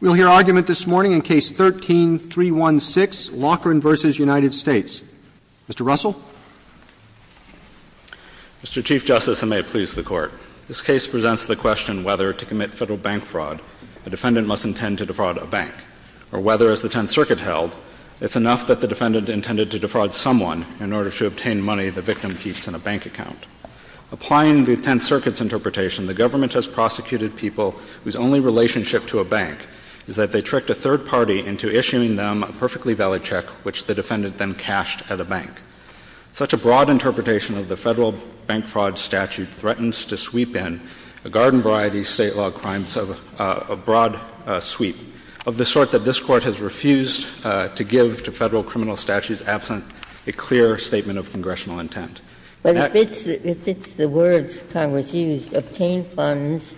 We'll hear argument this morning in Case 13-316, Loughrin v. United States. Mr. Russell. Mr. Chief Justice, and may it please the Court, this case presents the question whether, to commit Federal bank fraud, a defendant must intend to defraud a bank, or whether, as the Tenth Circuit held, it's enough that the defendant intended to defraud someone in order to obtain money the victim keeps in a bank account. Applying the Tenth Circuit's interpretation, the government has prosecuted people whose only relationship to a bank is that they tricked a third party into issuing them a perfectly valid check which the defendant then cashed at a bank. Such a broad interpretation of the Federal bank fraud statute threatens to sweep in a garden-variety state law crime of a broad sweep of the sort that this Court has refused to give to Federal criminal statutes absent a clear statement of congressional intent. Ginsburg. But if it's the words Congress used, obtain funds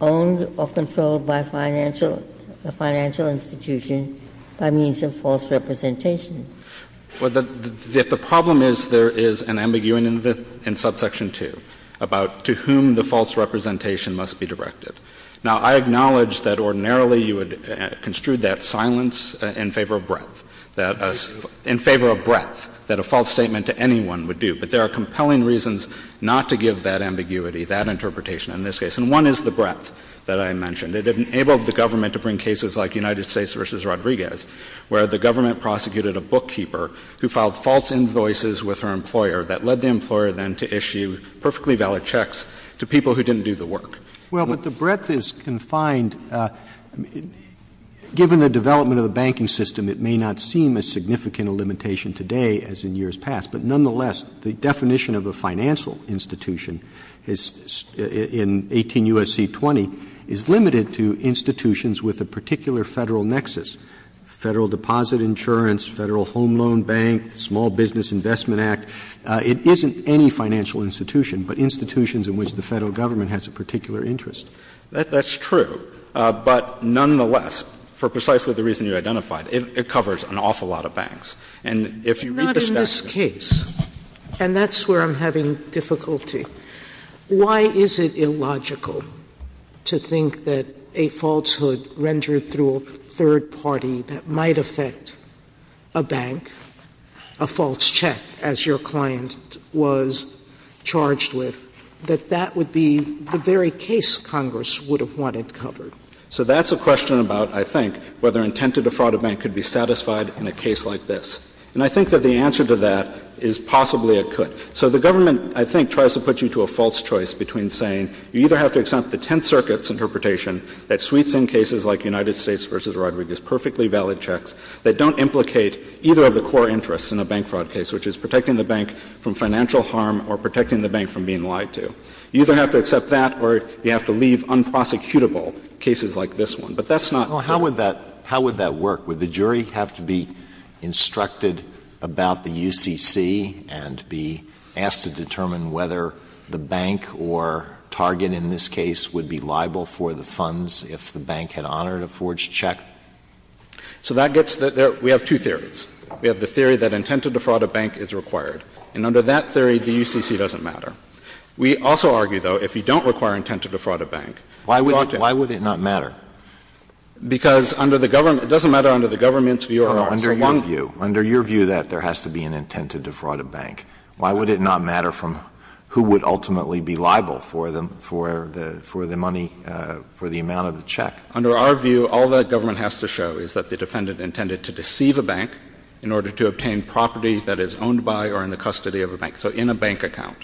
owned or controlled by financial institutions by means of false representation. Well, the problem is there is an ambiguity in subsection 2 about to whom the false representation must be directed. Now, I acknowledge that ordinarily you would construe that silence in favor of breadth, that in favor of breadth, that a false statement to anyone would do. But there are compelling reasons not to give that ambiguity, that interpretation in this case. And one is the breadth that I mentioned. It enabled the government to bring cases like United States v. Rodriguez, where the government prosecuted a bookkeeper who filed false invoices with her employer that led the employer then to issue perfectly valid checks to people who didn't do the work. Well, but the breadth is confined. And given the development of the banking system, it may not seem as significant a limitation today as in years past. But nonetheless, the definition of a financial institution is, in 18 U.S.C. 20, is limited to institutions with a particular Federal nexus, Federal deposit insurance, Federal home loan bank, Small Business Investment Act. It isn't any financial institution, but institutions in which the Federal government has a particular interest. That's true. But nonetheless, for precisely the reason you identified, it covers an awful lot of banks. And if you read the statute of limitations, it covers a lot of banks. Sotomayor, and that's where I'm having difficulty. Why is it illogical to think that a falsehood rendered through a third party that might affect a bank, a false check, as your client was charged with, that that would be the very case Congress would have wanted covered? So that's a question about, I think, whether intent to defraud a bank could be satisfied in a case like this. And I think that the answer to that is possibly it could. So the government, I think, tries to put you to a false choice between saying you either have to accept the Tenth Circuit's interpretation that sweeps-in cases like United States v. Rodriguez, perfectly valid checks, that don't implicate either of the core interests in a bank fraud case, which is protecting the bank from financial harm or protecting the bank from being lied to. You either have to accept that or you have to leave unprosecutable cases like this one. But that's not the case. Alito, how would that work? Would the jury have to be instructed about the UCC and be asked to determine whether the bank or target in this case would be liable for the funds if the bank had honored a forged check? So that gets the other. We have two theories. We have the theory that intent to defraud a bank is required. And under that theory, the UCC doesn't matter. We also argue, though, if you don't require intent to defraud a bank, you ought to act. Alito, why would it not matter? Because under the government – it doesn't matter under the government's view or ours. Under your view, under your view that there has to be an intent to defraud a bank, why would it not matter from who would ultimately be liable for the money, for the amount of the check? Under our view, all that government has to show is that the defendant intended to deceive a bank in order to obtain property that is owned by or in the custody of a bank. So in a bank account.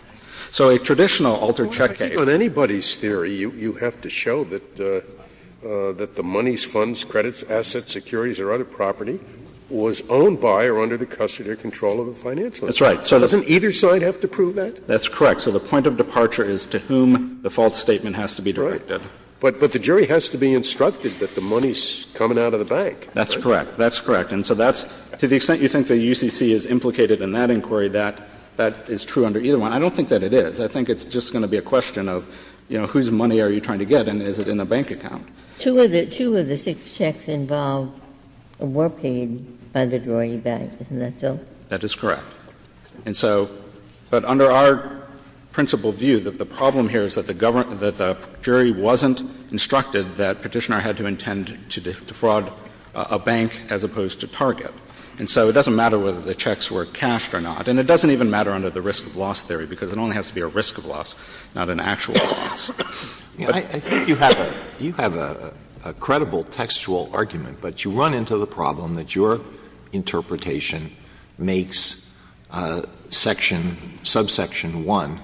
So a traditional altered check case – Scalia, I think on anybody's theory, you have to show that the money's funds, credits, assets, securities or other property was owned by or under the custody or control of a financial institution. Doesn't either side have to prove that? That's correct. So the point of departure is to whom the false statement has to be directed. But the jury has to be instructed that the money's coming out of the bank. That's correct. That's correct. And so that's – to the extent you think the UCC is implicated in that inquiry, that is true under either one. I don't think that it is. I think it's just going to be a question of, you know, whose money are you trying to get and is it in a bank account? Two of the – two of the six checks involved were paid by the drawing bag. Isn't that so? That is correct. And so – but under our principal view, the problem here is that the government – that the jury wasn't instructed that Petitioner had to intend to defraud a bank as opposed to target. And so it doesn't matter whether the checks were cashed or not. And it doesn't even matter under the risk of loss theory, because it only has to be a risk of loss, not an actual loss. But you have a – you have a credible textual argument, but you run into the problem that your interpretation makes section – subsection 1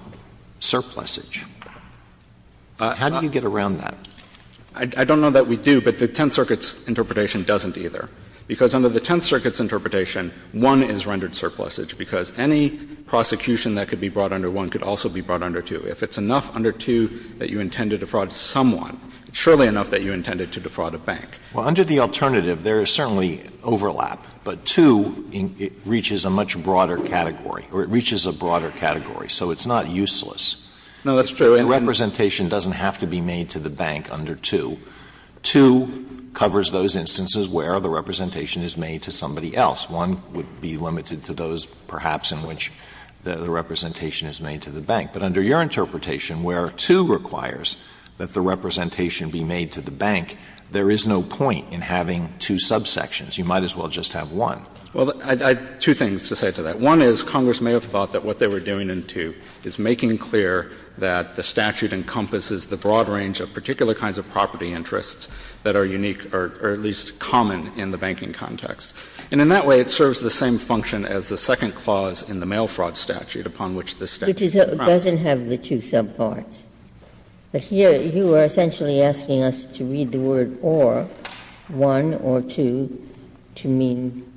surplusage. How do you get around that? I don't know that we do, but the Tenth Circuit's interpretation doesn't either. Because under the Tenth Circuit's interpretation, 1 is rendered surplusage, because any prosecution that could be brought under 1 could also be brought under 2. If it's enough under 2 that you intend to defraud someone, it's surely enough that you intend to defraud a bank. Well, under the alternative, there is certainly overlap, but 2, it reaches a much broader category, or it reaches a broader category, so it's not useless. No, that's true. And representation doesn't have to be made to the bank under 2. 2 covers those instances where the representation is made to somebody else. 1 would be limited to those, perhaps, in which the representation is made to the bank. But under your interpretation, where 2 requires that the representation be made to the bank, there is no point in having two subsections. You might as well just have one. Well, I have two things to say to that. One is Congress may have thought that what they were doing in 2 is making clear that the statute encompasses the broad range of particular kinds of property interests that are unique or at least common in the banking context. And in that way, it serves the same function as the second clause in the mail fraud statute upon which this statute is pressed. It doesn't have the two subparts. But here you are essentially asking us to read the word or, 1 or 2, to mean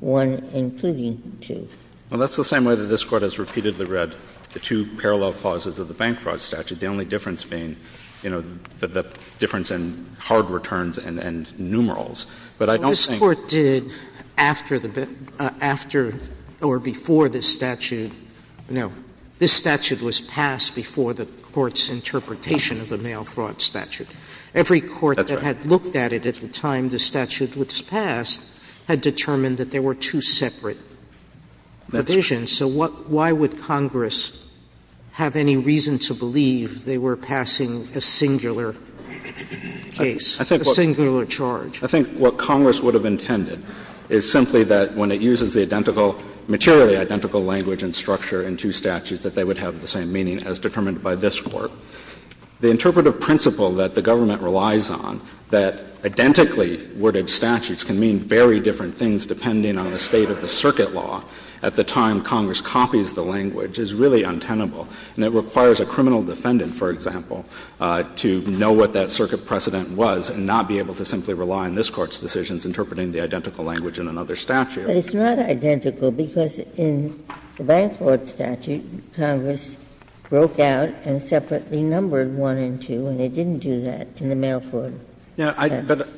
1 including 2. Well, that's the same way that this Court has repeatedly read the two parallel clauses of the bank fraud statute, the only difference being, you know, the difference in hard returns and numerals. But I don't think that's the case. Sotomayor This Court did after or before this statute no, this statute was passed before the court's interpretation of the mail fraud statute. Every court that had looked at it at the time the statute was passed had determined that there were two separate provisions. So what why would Congress have any reason to believe they were passing a singular case, a singular charge? I think what Congress would have intended is simply that when it uses the identical materially identical language and structure in two statutes that they would have the same meaning as determined by this Court. The interpretive principle that the government relies on, that identically worded statutes can mean very different things depending on the state of the circuit law, at the time Congress copies the language, is really untenable. And it requires a criminal defendant, for example, to know what that circuit precedent was and not be able to simply rely on this Court's decisions interpreting the identical language in another statute. Ginsburg But it's not identical because in the bank fraud statute, Congress broke out and separately numbered one and two, and it didn't do that in the mail fraud statute. Phillips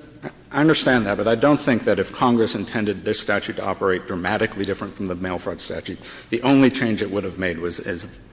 I understand that, but I don't think that if Congress intended this statute to operate dramatically different from the mail fraud statute, the only change it would have made was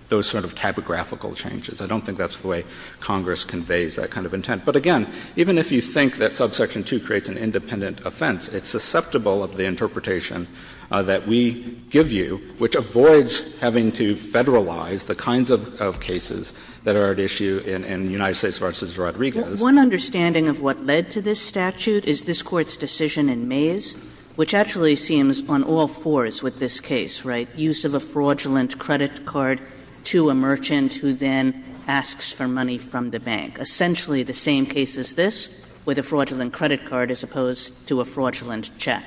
those sort of typographical changes. I don't think that's the way Congress conveys that kind of intent. But again, even if you think that subsection 2 creates an independent offense, it's susceptible of the interpretation that we give you, which avoids having to federalize the kinds of cases that are at issue in United States v. Rodriguez. Kagan One understanding of what led to this statute is this Court's decision in Mays, which actually seems on all fours with this case, right, use of a fraudulent credit card to a merchant who then asks for money from the bank. Essentially the same case as this, with a fraudulent credit card as opposed to a fraudulent check.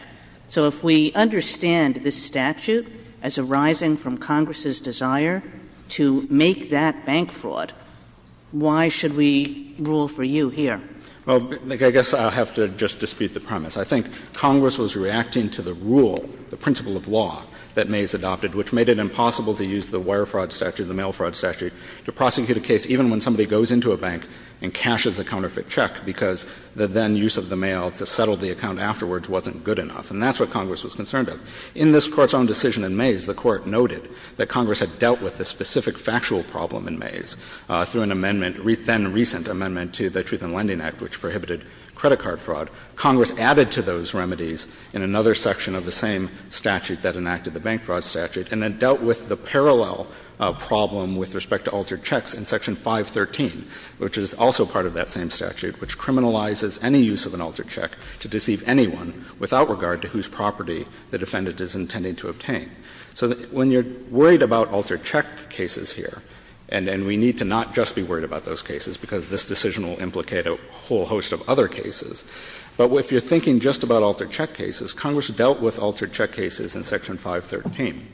So if we understand this statute as arising from Congress's desire to make that bank a fraud, why should we rule for you here? Phillips I guess I'll have to just dispute the premise. I think Congress was reacting to the rule, the principle of law that Mays adopted, which made it impossible to use the wire fraud statute, the mail fraud statute, to prosecute a case even when somebody goes into a bank and cashes a counterfeit check, because the then use of the mail to settle the account afterwards wasn't good enough. And that's what Congress was concerned with. In this Court's own decision in Mays, the Court noted that Congress had dealt with the specific factual problem in Mays through an amendment, then recent amendment to the Truth in Lending Act, which prohibited credit card fraud. Congress added to those remedies in another section of the same statute that enacted the bank fraud statute and then dealt with the parallel problem with respect to altered checks in Section 513, which is also part of that same statute, which criminalizes any use of an altered check to deceive anyone without regard to whose property the defendant is intending to obtain. So when you're worried about altered check cases here, and we need to not just be worried about those cases because this decision will implicate a whole host of other cases, but if you're thinking just about altered check cases, Congress dealt with altered check cases in Section 513.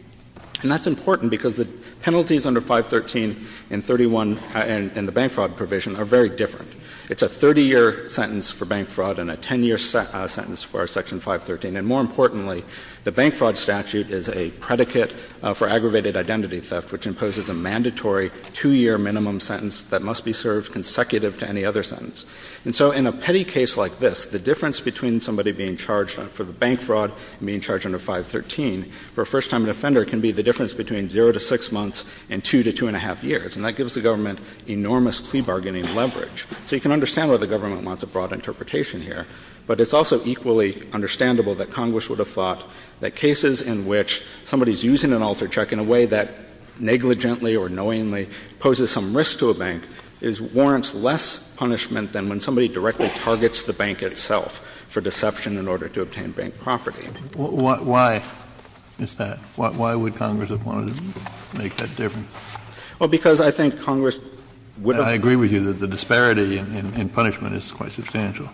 And that's important because the penalties under 513 and 31 in the bank fraud provision are very different. It's a 30-year sentence for bank fraud and a 10-year sentence for Section 513. And more importantly, the bank fraud statute is a predicate for aggravated identity theft, which imposes a mandatory 2-year minimum sentence that must be served consecutive to any other sentence. And so in a petty case like this, the difference between somebody being charged for the bank fraud and being charged under 513 for a first-time offender can be the difference between 0 to 6 months and 2 to 2-1⁄2 years, and that gives the government enormous plea bargaining leverage. So you can understand why the government wants a broad interpretation here, but it's also equally understandable that Congress would have thought that cases in which somebody's using an altered check in a way that negligently or knowingly poses some risk to a bank warrants less punishment than when somebody directly targets the bank itself for deception in order to obtain bank property. Kennedy. Why is that? Why would Congress have wanted to make that difference? Well, because I think Congress would have been able to do that. And I agree with you that the disparity in punishment is quite substantial.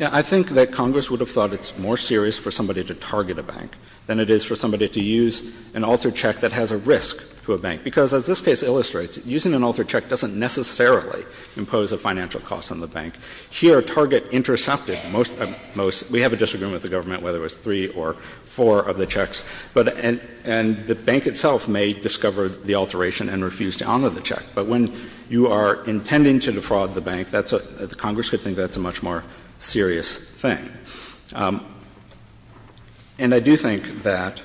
I think that Congress would have thought it's more serious for somebody to target a bank than it is for somebody to use an altered check that has a risk to a bank, because as this case illustrates, using an altered check doesn't necessarily impose a financial cost on the bank. Here, a target intercepted most — we have a disagreement with the government whether it was three or four of the checks, but — and the bank itself may discover the alteration and refuse to honor the check. But when you are intending to defraud the bank, that's — Congress could think that's a much more serious thing. And I do think that,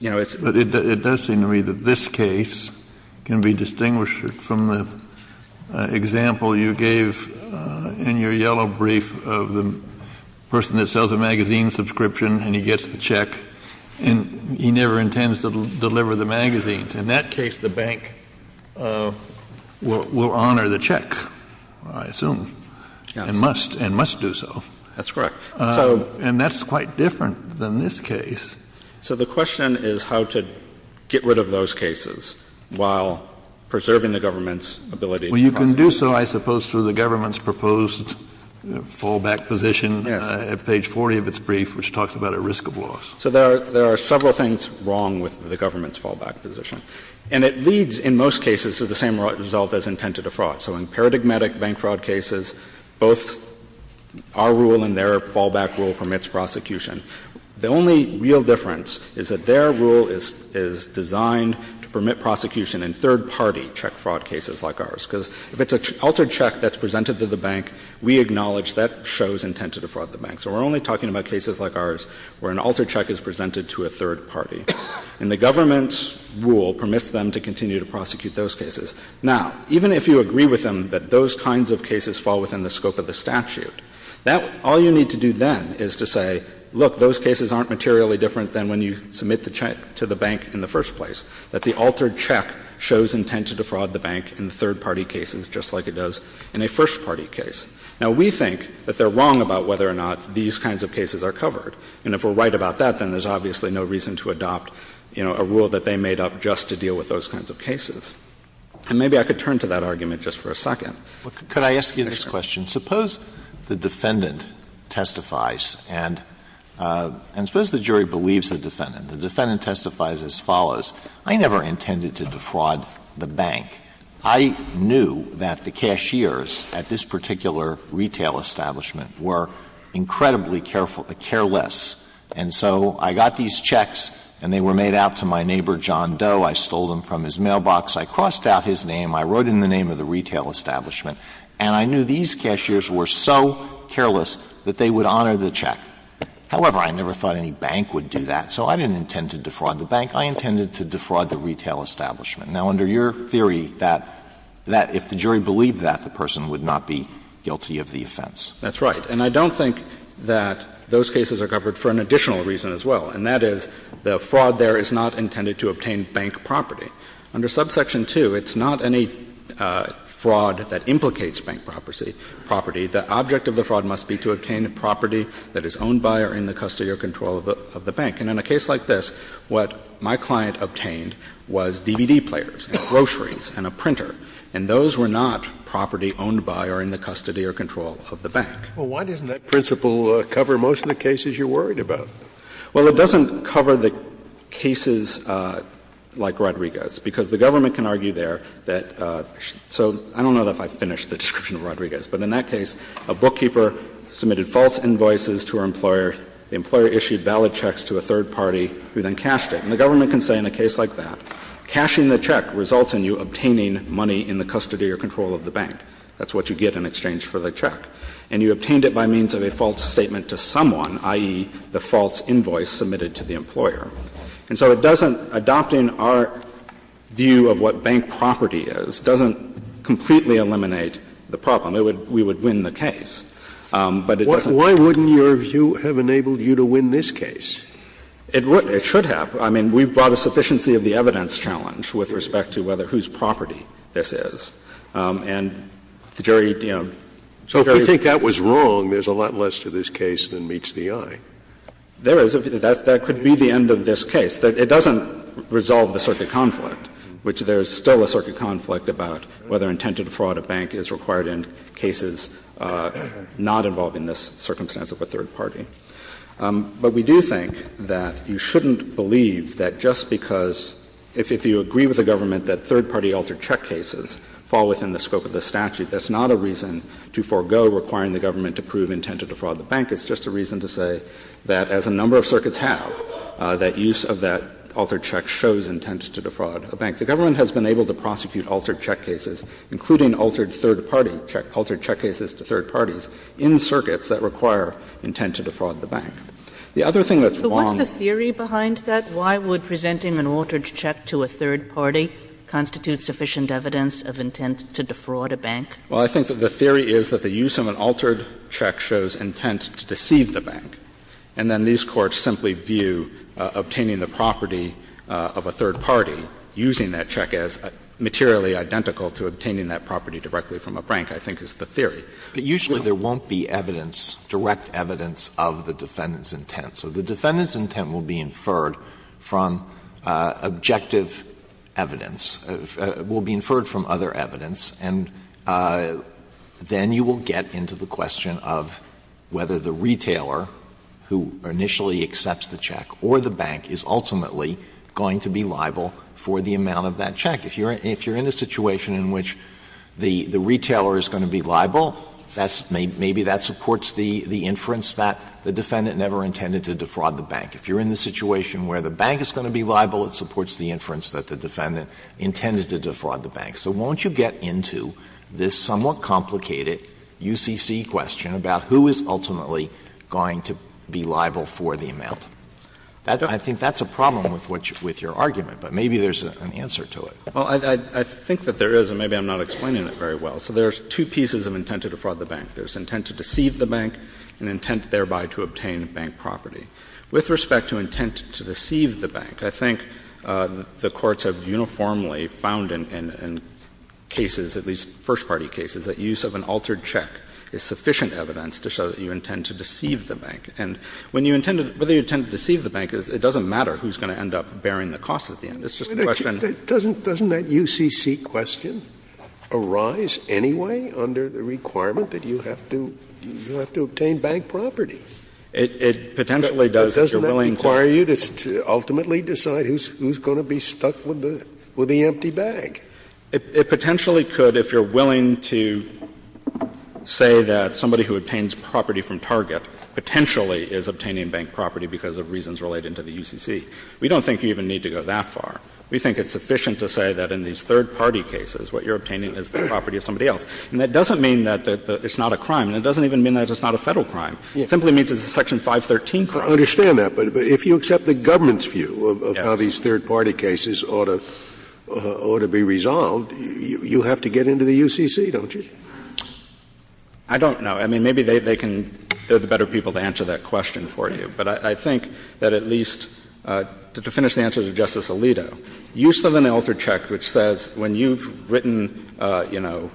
you know, it's — Kennedy, it does seem to me that this case can be distinguished from the example you gave in your yellow brief of the person that sells a magazine subscription and he gets the check, and he never intends to deliver the magazines. In that case, the bank will honor the check, I assume. Yes. And must — and must do so. That's correct. And so — And that's quite different than this case. So the question is how to get rid of those cases while preserving the government's ability to prosecute. Well, you can do so, I suppose, through the government's proposed fallback position at page 40 of its brief, which talks about a risk of loss. So there are — there are several things wrong with the government's fallback position. And it leads, in most cases, to the same result as intent to defraud. So in paradigmatic bank fraud cases, both our rule and their fallback rule permits prosecution. The only real difference is that their rule is designed to permit prosecution in third party check fraud cases like ours, because if it's an altered check that's presented to the bank, we acknowledge that shows intent to defraud the bank. So we're only talking about cases like ours where an altered check is presented to a third party. And the government's rule permits them to continue to prosecute those cases. Now, even if you agree with them that those kinds of cases fall within the scope of the statute, that — all you need to do then is to say, look, those cases aren't materially different than when you submit the check to the bank in the first place, that the altered check shows intent to defraud the bank in third party cases just like it does in a first party case. Now, we think that they're wrong about whether or not these kinds of cases are covered. And if we're right about that, then there's obviously no reason to adopt, you know, a rule that they made up just to deal with those kinds of cases. And maybe I could turn to that argument just for a second. Alito, could I ask you this question? Suppose the defendant testifies and suppose the jury believes the defendant. The defendant testifies as follows. I never intended to defraud the bank. I knew that the cashiers at this particular retail establishment were incredibly careful — careless. And so I got these checks and they were made out to my neighbor, John Doe. I stole them from his mailbox. I crossed out his name. I wrote in the name of the retail establishment. And I knew these cashiers were so careless that they would honor the check. However, I never thought any bank would do that. So I didn't intend to defraud the bank. I intended to defraud the retail establishment. Now, under your theory, that if the jury believed that, the person would not be guilty of the offense. That's right. And I don't think that those cases are covered for an additional reason as well, and that is the fraud there is not intended to obtain bank property. Under subsection 2, it's not any fraud that implicates bank property. The object of the fraud must be to obtain a property that is owned by or in the custody or control of the bank. And in a case like this, what my client obtained was DVD players and groceries and a printer. And those were not property owned by or in the custody or control of the bank. Well, why doesn't that principle cover most of the cases you're worried about? Well, it doesn't cover the cases like Rodriguez, because the government can argue there that so I don't know if I finished the description of Rodriguez, but in that case, a bookkeeper submitted false invoices to her employer, the employer issued valid checks to a third party who then cashed it. And the government can say in a case like that, cashing the check results in you obtaining money in the custody or control of the bank. That's what you get in exchange for the check. And you obtained it by means of a false statement to someone, i.e., the false invoice submitted to the employer. And so it doesn't, adopting our view of what bank property is, doesn't completely eliminate the problem. It would, we would win the case, but it doesn't. Why wouldn't your view have enabled you to win this case? It would, it should have. I mean, we've brought a sufficiency of the evidence challenge with respect to whether And the jury, you know, the jury would be able to decide. If you think that was wrong, there's a lot less to this case than meets the eye. There is. That could be the end of this case. It doesn't resolve the circuit conflict, which there's still a circuit conflict about whether intended fraud at bank is required in cases not involving this circumstance of a third party. But we do think that you shouldn't believe that just because, if you agree with the government that third party altered check cases fall within the scope of the statute, that's not a reason to forego requiring the government to prove intent to defraud the bank. It's just a reason to say that, as a number of circuits have, that use of that altered check shows intent to defraud a bank. The government has been able to prosecute altered check cases, including altered third party check, altered check cases to third parties, in circuits that require intent to defraud the bank. The other thing that's wrong But what's the theory behind that? Why would presenting an altered check to a third party constitute sufficient evidence of intent to defraud a bank? Well, I think that the theory is that the use of an altered check shows intent to deceive the bank, and then these courts simply view obtaining the property of a third party, using that check as materially identical to obtaining that property directly from a bank, I think is the theory. But usually there won't be evidence, direct evidence, of the defendant's intent. So the defendant's intent will be inferred from objective evidence, will be inferred from other evidence, and then you will get into the question of whether the retailer who initially accepts the check or the bank is ultimately going to be liable for the amount of that check. If you're in a situation in which the retailer is going to be liable, that's maybe that supports the inference that the defendant never intended to defraud the bank. If you're in the situation where the bank is going to be liable, it supports the inference that the defendant intended to defraud the bank. So won't you get into this somewhat complicated UCC question about who is ultimately going to be liable for the amount? I think that's a problem with what you — with your argument, but maybe there's an answer to it. Well, I think that there is, and maybe I'm not explaining it very well. So there's two pieces of intent to defraud the bank. There's intent to deceive the bank and intent thereby to obtain bank property. With respect to intent to deceive the bank, I think the courts have uniformly found in cases, at least first-party cases, that use of an altered check is sufficient evidence to show that you intend to deceive the bank. And when you intend to — whether you intend to deceive the bank, it doesn't matter who's going to end up bearing the cost at the end. It's just a question of — Doesn't that UCC question arise anyway under the requirement that you have to — you have to obtain bank property? It potentially does, if you're willing to — But doesn't that require you to ultimately decide who's going to be stuck with the empty bag? It potentially could if you're willing to say that somebody who obtains property from Target potentially is obtaining bank property because of reasons related to the UCC. We don't think you even need to go that far. We think it's sufficient to say that in these third-party cases, what you're obtaining is the property of somebody else. And that doesn't mean that it's not a crime, and it doesn't even mean that it's not a Federal crime. It simply means it's a Section 513 crime. I understand that, but if you accept the government's view of how these third-party cases ought to — ought to be resolved, you have to get into the UCC, don't you? I don't know. I mean, maybe they can — they're the better people to answer that question for you. But I think that at least — to finish the answer to Justice Alito, use of an altered check which says when you've written, you know,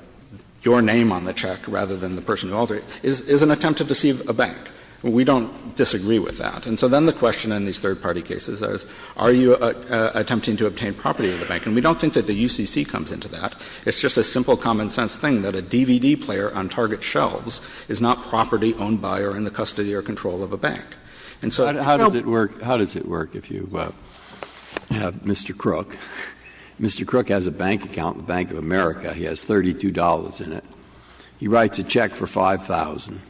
your name on the check rather than the person who altered it is an attempt to deceive a bank. We don't disagree with that. And so then the question in these third-party cases is, are you attempting to obtain property of the bank? And we don't think that the UCC comes into that. It's just a simple common-sense thing that a DVD player on target shelves is not property owned by or in the custody or control of a bank. And so — How does it work — how does it work if you have Mr. Crook? Mr. Crook has a bank account in the Bank of America. He has $32 in it. He writes a check for 5,000.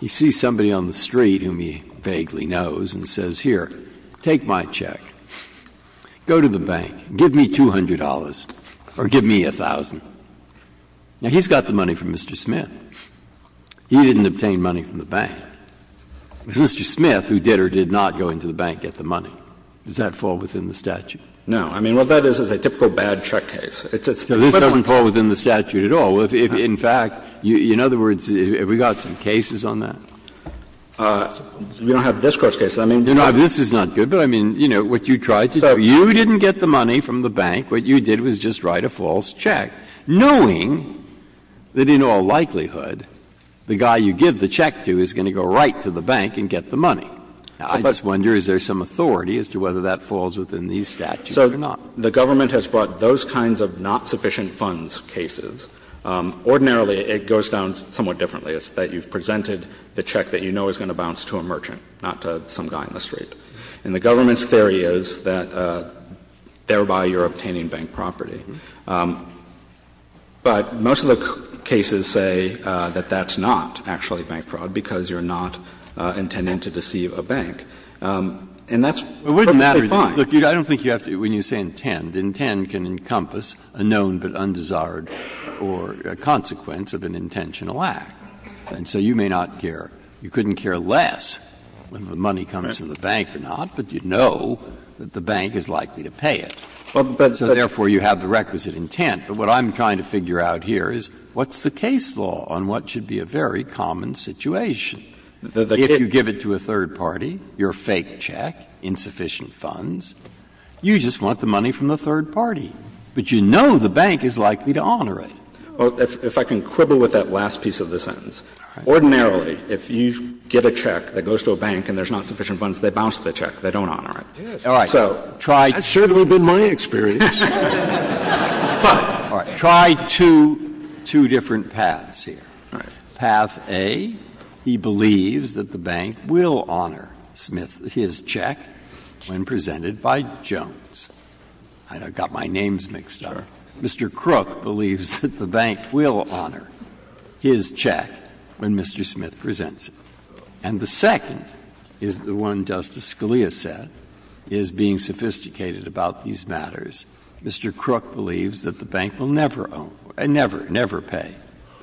He sees somebody on the street whom he vaguely knows and says, here, take my check. Go to the bank. Give me $200 or give me 1,000. Now, he's got the money from Mr. Smith. He didn't obtain money from the bank. It was Mr. Smith who did or did not go into the bank and get the money. Does that fall within the statute? No. I mean, what that is is a typical bad check case. It's a simple one. This doesn't fall within the statute at all. In fact, in other words, have we got some cases on that? We don't have this Court's case. I mean, this is not good, but I mean, you know, what you tried to do. You didn't get the money from the bank. What you did was just write a false check, knowing that in all likelihood, the guy you give the check to is going to go right to the bank and get the money. I just wonder, is there some authority as to whether that falls within these statutes or not? The government has brought those kinds of not-sufficient-funds cases. Ordinarily, it goes down somewhat differently. It's that you've presented the check that you know is going to bounce to a merchant, not to some guy in the street. And the government's theory is that thereby you're obtaining bank property. But most of the cases say that that's not actually bank fraud because you're not intending to deceive a bank. And that's perfectly fine. Breyer. I don't think you have to, when you say intend, intend can encompass a known but undesired or a consequence of an intentional act. And so you may not care. You couldn't care less whether the money comes from the bank or not, but you know that the bank is likely to pay it. So therefore, you have the requisite intent. But what I'm trying to figure out here is what's the case law on what should be a very common situation? If you give it to a third party, your fake check, insufficient funds, you just want the money from the third party, but you know the bank is likely to honor it. Well, if I can quibble with that last piece of the sentence. Ordinarily, if you get a check that goes to a bank and there's not sufficient funds, they bounce the check. They don't honor it. All right. So try to. That's certainly been my experience. But. All right. Try two different paths here. All right. Path A, he believes that the bank will honor his check when presented by Jones. I've got my names mixed up. Mr. Crook believes that the bank will honor his check when Mr. Smith presents it. And the second is the one Justice Scalia said is being sophisticated about these matters. Mr. Crook believes that the bank will never own, never, never pay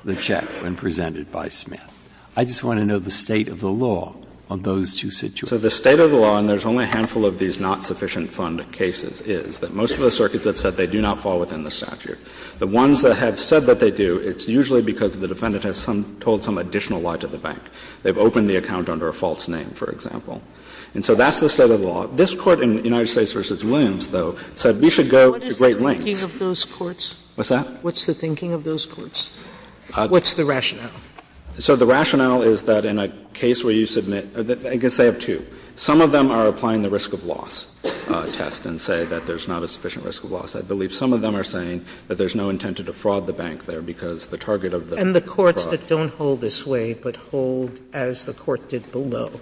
the check when presented by Smith. I just want to know the state of the law on those two situations. So the state of the law, and there's only a handful of these not sufficient fund cases, is that most of the circuits have said they do not fall within the statute. The ones that have said that they do, it's usually because the defendant has told some additional lie to the bank. They've opened the account under a false name, for example. And so that's the state of the law. This Court in United States v. Williams, though, said we should go to great lengths. Sotomayor, what is the thinking of those courts? What's that? What's the thinking of those courts? What's the rationale? So the rationale is that in a case where you submit – I guess they have two. Some of them are applying the risk of loss test and say that there's not a sufficient risk of loss. I believe some of them are saying that there's no intent to defraud the bank there because the target of the fraud. And the courts that don't hold this way but hold, as the Court did below,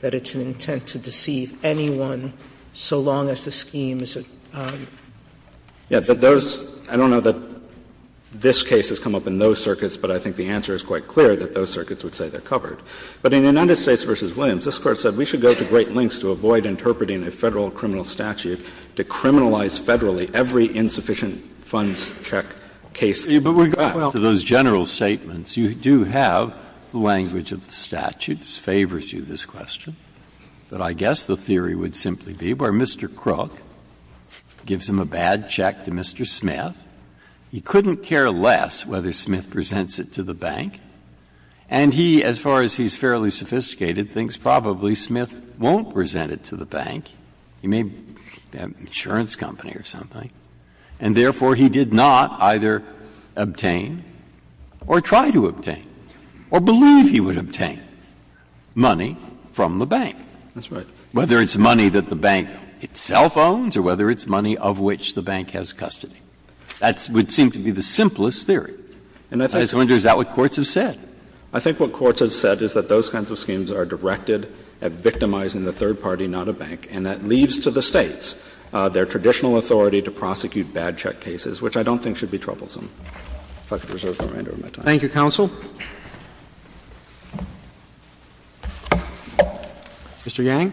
that it's not an intent to deceive anyone so long as the scheme is at arm's length. Yes, but those – I don't know that this case has come up in those circuits, but I think the answer is quite clear that those circuits would say they're covered. But in United States v. Williams, this Court said we should go to great lengths to avoid interpreting a Federal criminal statute to criminalize Federally every insufficient funds check case. Breyer, but with regard to those general statements, you do have language of the statute that favors you, this question. But I guess the theory would simply be where Mr. Crook gives him a bad check to Mr. Smith. He couldn't care less whether Smith presents it to the bank. And he, as far as he's fairly sophisticated, thinks probably Smith won't present it to the bank. He may have an insurance company or something. And therefore, he did not either obtain or try to obtain or believe he would obtain money from the bank. That's right. Whether it's money that the bank itself owns or whether it's money of which the bank has custody. That would seem to be the simplest theory. And I just wonder, is that what courts have said? I think what courts have said is that those kinds of schemes are directed at victimizing the third party, not a bank. And that leaves to the States their traditional authority to prosecute bad check cases, which I don't think should be troublesome. If I could reserve the remainder of my time. Thank you, counsel. Mr. Yang.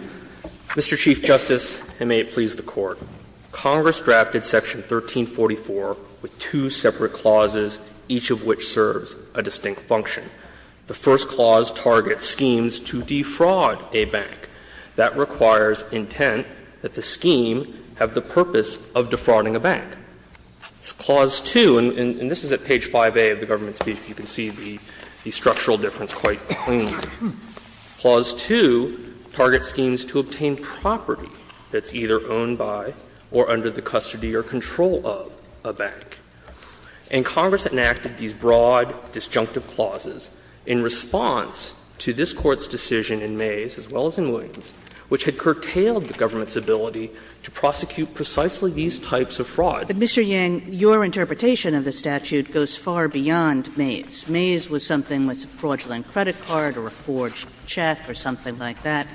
Mr. Chief Justice, and may it please the Court, Congress drafted Section 1344 with two separate clauses, each of which serves a distinct function. The first clause targets schemes to defraud a bank. That requires intent that the scheme have the purpose of defrauding a bank. Clause 2, and this is at page 5A of the government's brief, you can see the structural difference quite cleanly. Clause 2 targets schemes to obtain property that's either owned by or under the custody or control of a bank. And Congress enacted these broad disjunctive clauses in response to this Court's decision in Mays as well as in Williams, which had curtailed the government's ability to prosecute precisely these types of frauds. But, Mr. Yang, your interpretation of the statute goes far beyond Mays. Mays was something that's a fraudulent credit card or a forged check or something like that.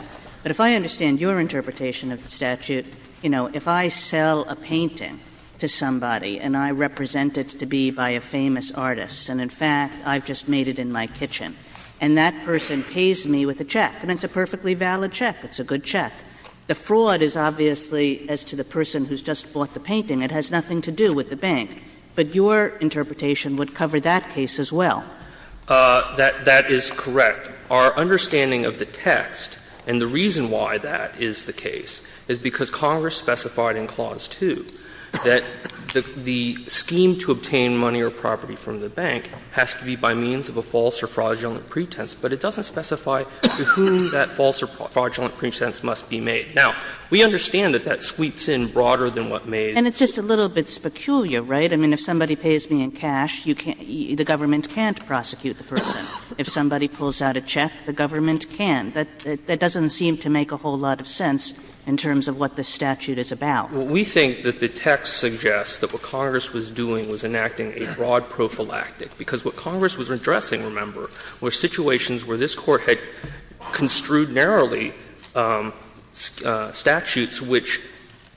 But if I understand your interpretation of the statute, you know, if I sell a painting to somebody and I represent it to be by a famous artist, and in fact, I've just made it in my kitchen, and that person pays me with a check, and it's a perfectly valid check, it's a good check. The fraud is obviously, as to the person who's just bought the painting, it has nothing to do with the bank. But your interpretation would cover that case as well. Yang, that is correct. Our understanding of the text, and the reason why that is the case, is because Congress specified in Clause 2 that the scheme to obtain money or property from the bank has to be by means of a false or fraudulent pretense, but it doesn't specify to whom that false or fraudulent pretense must be made. Now, we understand that that sweeps in broader than what Mays. Kagan. And it's just a little bit peculiar, right? I mean, if somebody pays me in cash, you can't — the government can't prosecute the person. If somebody pulls out a check, the government can. That doesn't seem to make a whole lot of sense in terms of what this statute is about. Well, we think that the text suggests that what Congress was doing was enacting a broad prophylactic, because what Congress was addressing, remember, were situations where this Court had construed narrowly statutes which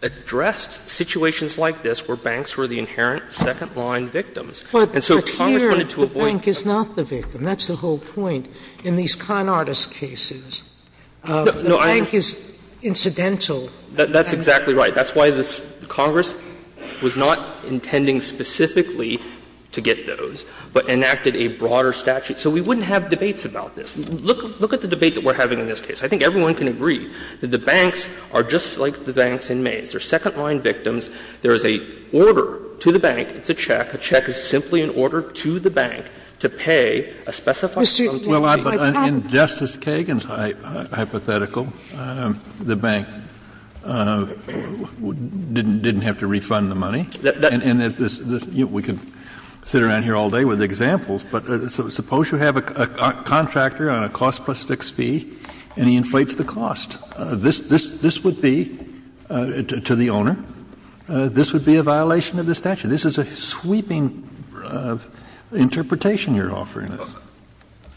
addressed situations like this where banks were the inherent second-line victims. And so Congress wanted to avoid the fact that the bank is not the victim. That's the whole point in these con artist cases. The bank is incidental. That's exactly right. That's why Congress was not intending specifically to get those, but enacted a broader statute. So we wouldn't have debates about this. Look at the debate that we're having in this case. I think everyone can agree that the banks are just like the banks in Mays. They're second-line victims. There is an order to the bank. It's a check. A check is simply an order to the bank to pay a specified sum to the bank. Well, in Justice Kagan's hypothetical, the bank didn't have to refund the money. And we could sit around here all day with examples, but suppose you have a contractor on a cost plus fixed fee and he inflates the cost. This would be, to the owner, this would be a violation of the statute. This is a sweeping interpretation you're offering us.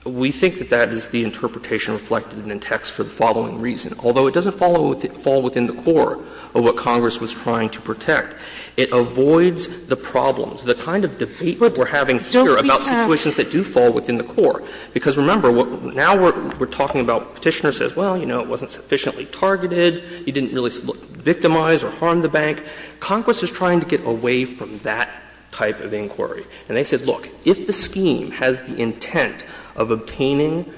We think that that is the interpretation reflected in the text for the following reason. Although it doesn't fall within the core of what Congress was trying to protect, it avoids the problems, the kind of debate we're having here about situations that do fall within the core. Because remember, now we're talking about Petitioner says, well, you know, it wasn't sufficiently targeted. He didn't really victimize or harm the bank. Congress is trying to get away from that type of inquiry. And they said, look, if the scheme has the intent of obtaining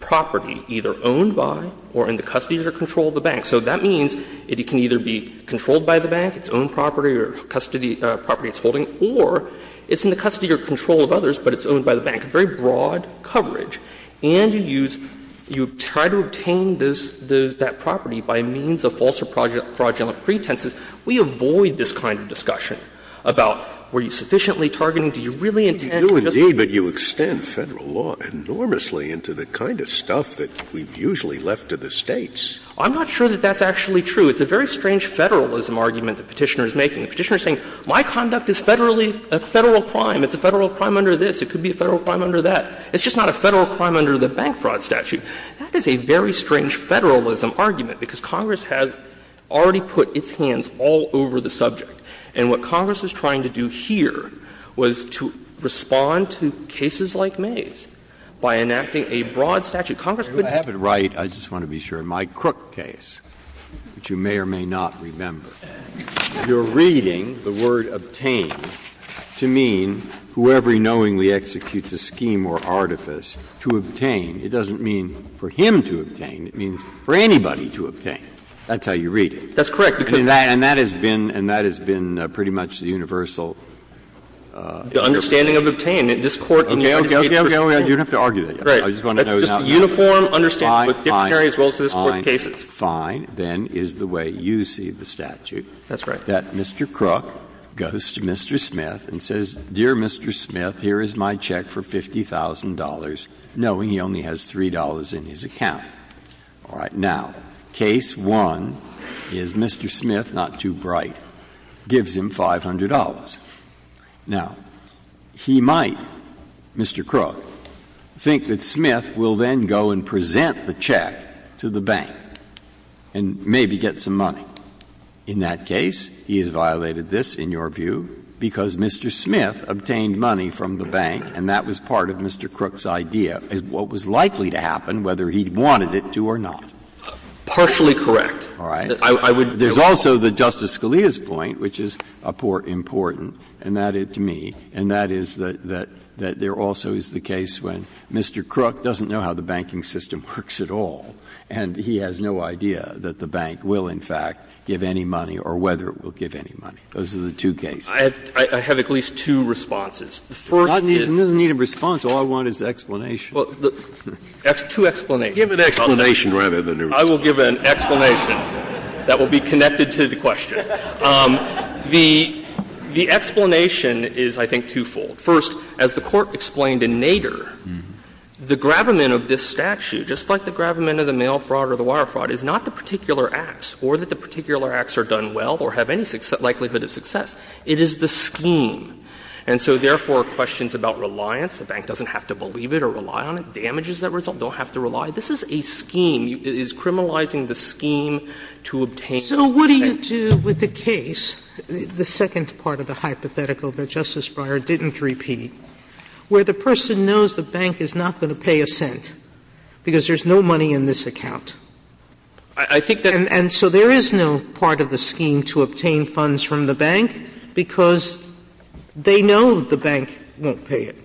property either owned by or in the custody or control of the bank, so that means it can either be controlled by the bank, its own property or custody property it's holding, or it's in the custody or control of others, but it's owned by the bank, very broad coverage, and you use you try to obtain this, that property by means of false or fraudulent pretenses, we avoid this kind of discussion about were you sufficiently targeting, do you really intend to just. Scalia, but you extend Federal law enormously into the kind of stuff that we've usually left to the States. I'm not sure that that's actually true. It's a very strange Federalism argument that Petitioner is making. Petitioner is saying, my conduct is Federally, a Federal crime. It's a Federal crime under this. It could be a Federal crime under that. It's just not a Federal crime under the bank fraud statute. That is a very strange Federalism argument, because Congress has already put its hands all over the subject. And what Congress was trying to do here was to respond to cases like May's by enacting a broad statute. Congress would have to do that. Roberts, the court may or may not remember. You're reading the word ''obtained'' to mean whoever knowingly executes a scheme or artifice, to obtain, it doesn't mean for him to obtain. It means for anybody to obtain. That's how you read it. That's correct. And that has been and that has been pretty much the universal... The understanding of ''obtained'' in this Court Okay. Okay. You don't have to argue that yet. I just want to know now how it works. Fine, fine, fine, fine, then is the way you see the statute. That's right. That Mr. Crook goes to Mr. Smith and says, ''Dear Mr. Smith, here is my check for $50,000,'' knowing he only has $3 in his account. All right. Now, case one is Mr. Smith, not too bright, gives him $500. Now, he might, Mr. Crook, think that Smith will then go and present the check to the bank and maybe get some money. In that case, he has violated this, in your view, because Mr. Smith obtained money from the bank and that was part of Mr. Crook's idea as what was likely to happen whether he wanted it to or not. Partially correct. All right. There is also the Justice Scalia's point, which is important, and that is to me, and that is that there also is the case when Mr. Crook doesn't know how the banking system works at all, and he has no idea that the bank will, in fact, give any money or whether it will give any money. Those are the two cases. I have at least two responses. The first is. It doesn't need a response. All I want is an explanation. Well, two explanations. Give an explanation rather than a response. I will give an explanation that will be connected to the question. The explanation is, I think, twofold. First, as the Court explained in Nader, the gravamen of this statute, just like the gravamen of the mail fraud or the wire fraud, is not the particular acts or that the particular acts are done well or have any likelihood of success. It is the scheme. And so, therefore, questions about reliance, the bank doesn't have to believe it or rely on it, damages that result, don't have to rely. This is a scheme. It is criminalizing the scheme to obtain. Sotomayor, So what do you do with the case, the second part of the hypothetical that Justice Breyer didn't repeat, where the person knows the bank is not going to pay a cent because there's no money in this account? And so there is no part of the scheme to obtain funds from the bank because they know the bank won't pay it.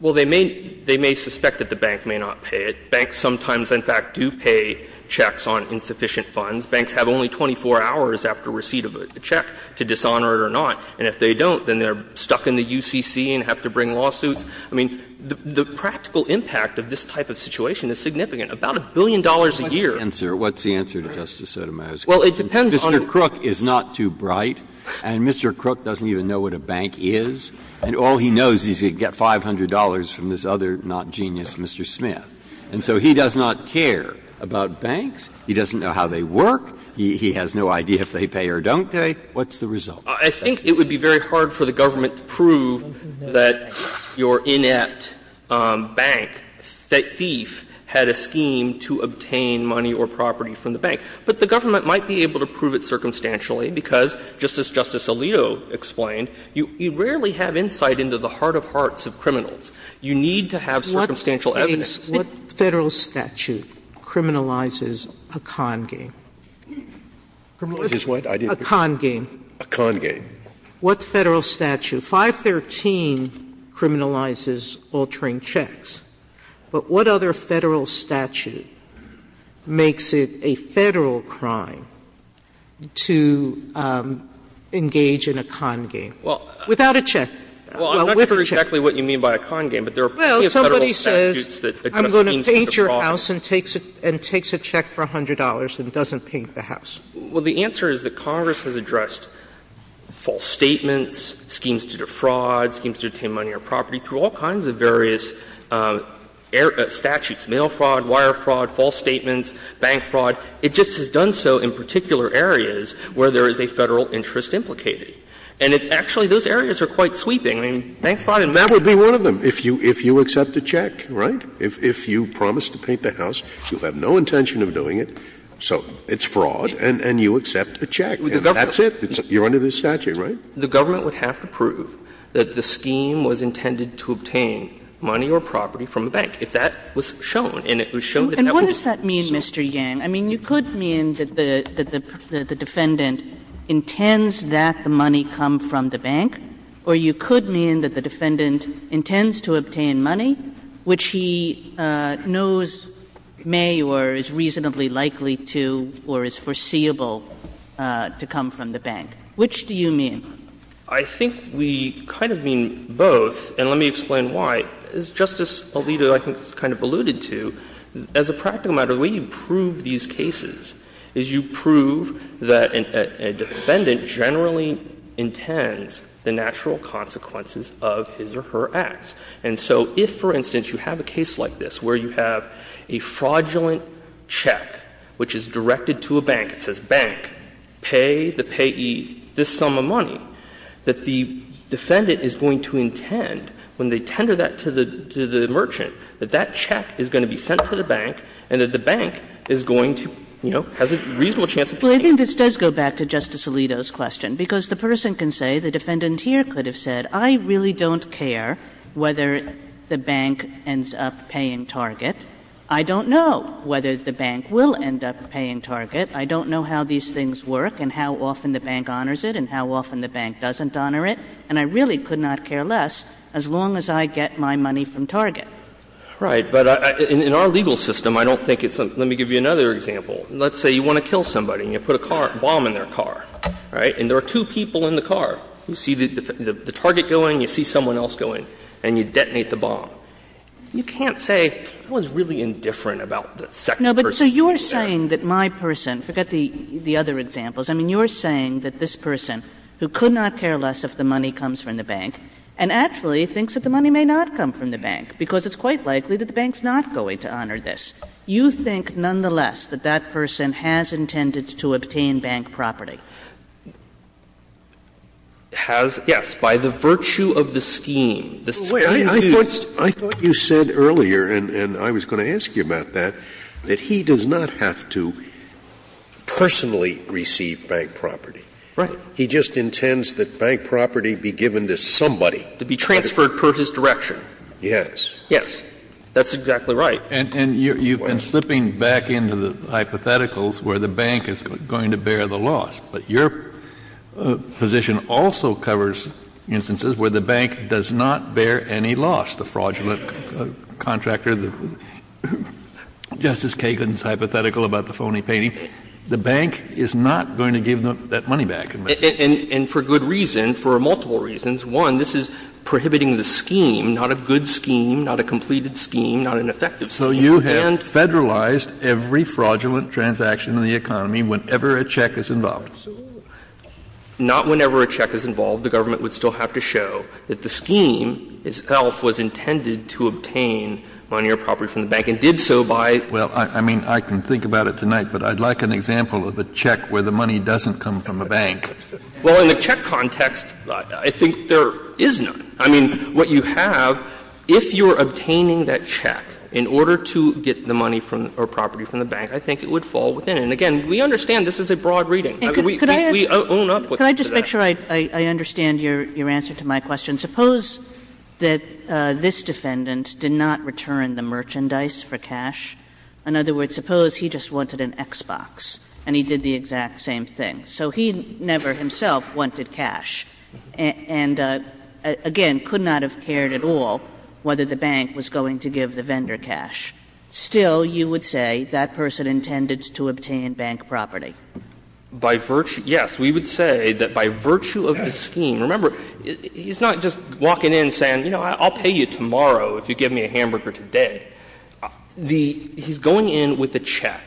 Well, they may suspect that the bank may not pay it. Banks sometimes, in fact, do pay checks on insufficient funds. Banks have only 24 hours after receipt of a check to dishonor it or not. And if they don't, then they're stuck in the UCC and have to bring lawsuits. I mean, the practical impact of this type of situation is significant. About a billion dollars a year. Breyer, what's the answer to Justice Sotomayor's question? Well, it depends on the Mr. Crook is not too bright, and Mr. Crook doesn't even know what a bank is. And all he knows is he can get $500 from this other not genius Mr. Smith. And so he does not care about banks. He doesn't know how they work. He has no idea if they pay or don't pay. What's the result? I think it would be very hard for the government to prove that your inept bank thief had a scheme to obtain money or property from the bank. But the government might be able to prove it circumstantially because, just as Justice Alito explained, you rarely have insight into the heart of hearts of criminals. You need to have circumstantial evidence. What Federal statute criminalizes a con game? A con game. A con game. What Federal statute? 513 criminalizes altering checks. But what other Federal statute makes it a Federal crime to engage in a con game? Without a check. Well, I'm not sure exactly what you mean by a con game, but there are plenty of Federal statutes that do that. I'm going to paint your house and takes a check for $100 and doesn't paint the house. Well, the answer is that Congress has addressed false statements, schemes to defraud, schemes to obtain money or property through all kinds of various statutes, mail fraud, wire fraud, false statements, bank fraud. It just has done so in particular areas where there is a Federal interest implicated. And it actually, those areas are quite sweeping. I mean, bank fraud and money fraud. That would be one of them, if you accept a check, right? If you promise to paint the house, you have no intention of doing it, so it's fraud and you accept a check. And that's it. You're under the statute, right? The government would have to prove that the scheme was intended to obtain money or property from the bank if that was shown. And it was shown that that was the case. And what does that mean, Mr. Yang? I mean, you could mean that the defendant intends that the money come from the bank, or you could mean that the defendant intends to obtain money, which he knows may or is reasonably likely to or is foreseeable to come from the bank. Which do you mean? I think we kind of mean both, and let me explain why. As Justice Alito, I think, has kind of alluded to, as a practical matter, the way you prove these cases is you prove that a defendant generally intends the natural consequences of his or her acts. And so if, for instance, you have a case like this where you have a fraudulent check which is directed to a bank, it says, Bank, pay the payee this sum of money, that the defendant is going to intend, when they tender that to the merchant, that that check is going to be sent to the bank and that the bank is going to, you know, has a reasonable chance of paying. Well, I think this does go back to Justice Alito's question, because the person can say, the defendant here could have said, I really don't care whether the bank ends up paying Target. I don't know whether the bank will end up paying Target. I don't know how these things work and how often the bank honors it and how often the bank doesn't honor it. And I really could not care less as long as I get my money from Target. Right. But in our legal system, I don't think it's the – let me give you another example. Let's say you want to kill somebody and you put a car – bomb in their car, right? And there are two people in the car. You see the target go in, you see someone else go in, and you detonate the bomb. You can't say, I was really indifferent about the second person. Kagan. Kagan. Kagan. Kagan. Kagan. Kagan. Kagan. Kagan. Kagan. Kagan. Kagan. Kagan. Kagan. Kagan. Kagan. Kagan. Now, I suspect, Mr. Chauvin, it's because it's quite likely that the bank's not going to honor this. You think, nonetheless, that that person has intended to obtain bank property? Has? Yes. By the virtue of the scheme, the scheme used— Wait. I thought you said earlier, and I was going to ask you about that, that he does not have to personally receive bank property. Right. He just intends that bank property be given to somebody— To be transferred per his direction. Yes. Yes. That's exactly right. And you've been slipping back into the hypotheticals where the bank is going to bear the loss. But your position also covers instances where the bank does not bear any loss. The fraudulent contractor, Justice Kagan's hypothetical about the phony painting, the bank is not going to give that money back. And for good reason, for multiple reasons. One, this is prohibiting the scheme, not a good scheme, not a completed scheme, not an effective scheme. And— So you have Federalized every fraudulent transaction in the economy whenever a check is involved. Not whenever a check is involved. The government would still have to show that the scheme itself was intended to obtain money or property from the bank, and did so by— Well, I mean, I can think about it tonight, but I'd like an example of a check where the money doesn't come from a bank. Well, in the check context, I think there is none. I mean, what you have, if you're obtaining that check in order to get the money from or property from the bank, I think it would fall within. And again, we understand this is a broad reading. We own up to that. Could I just make sure I understand your answer to my question? Suppose that this defendant did not return the merchandise for cash. In other words, suppose he just wanted an Xbox and he did the exact same thing. So he never himself wanted cash and, again, could not have cared at all whether the bank was going to give the vendor cash. Still, you would say that person intended to obtain bank property. By virtue — yes, we would say that by virtue of the scheme. Remember, he's not just walking in saying, you know, I'll pay you tomorrow if you give me a hamburger today. The — he's going in with a check.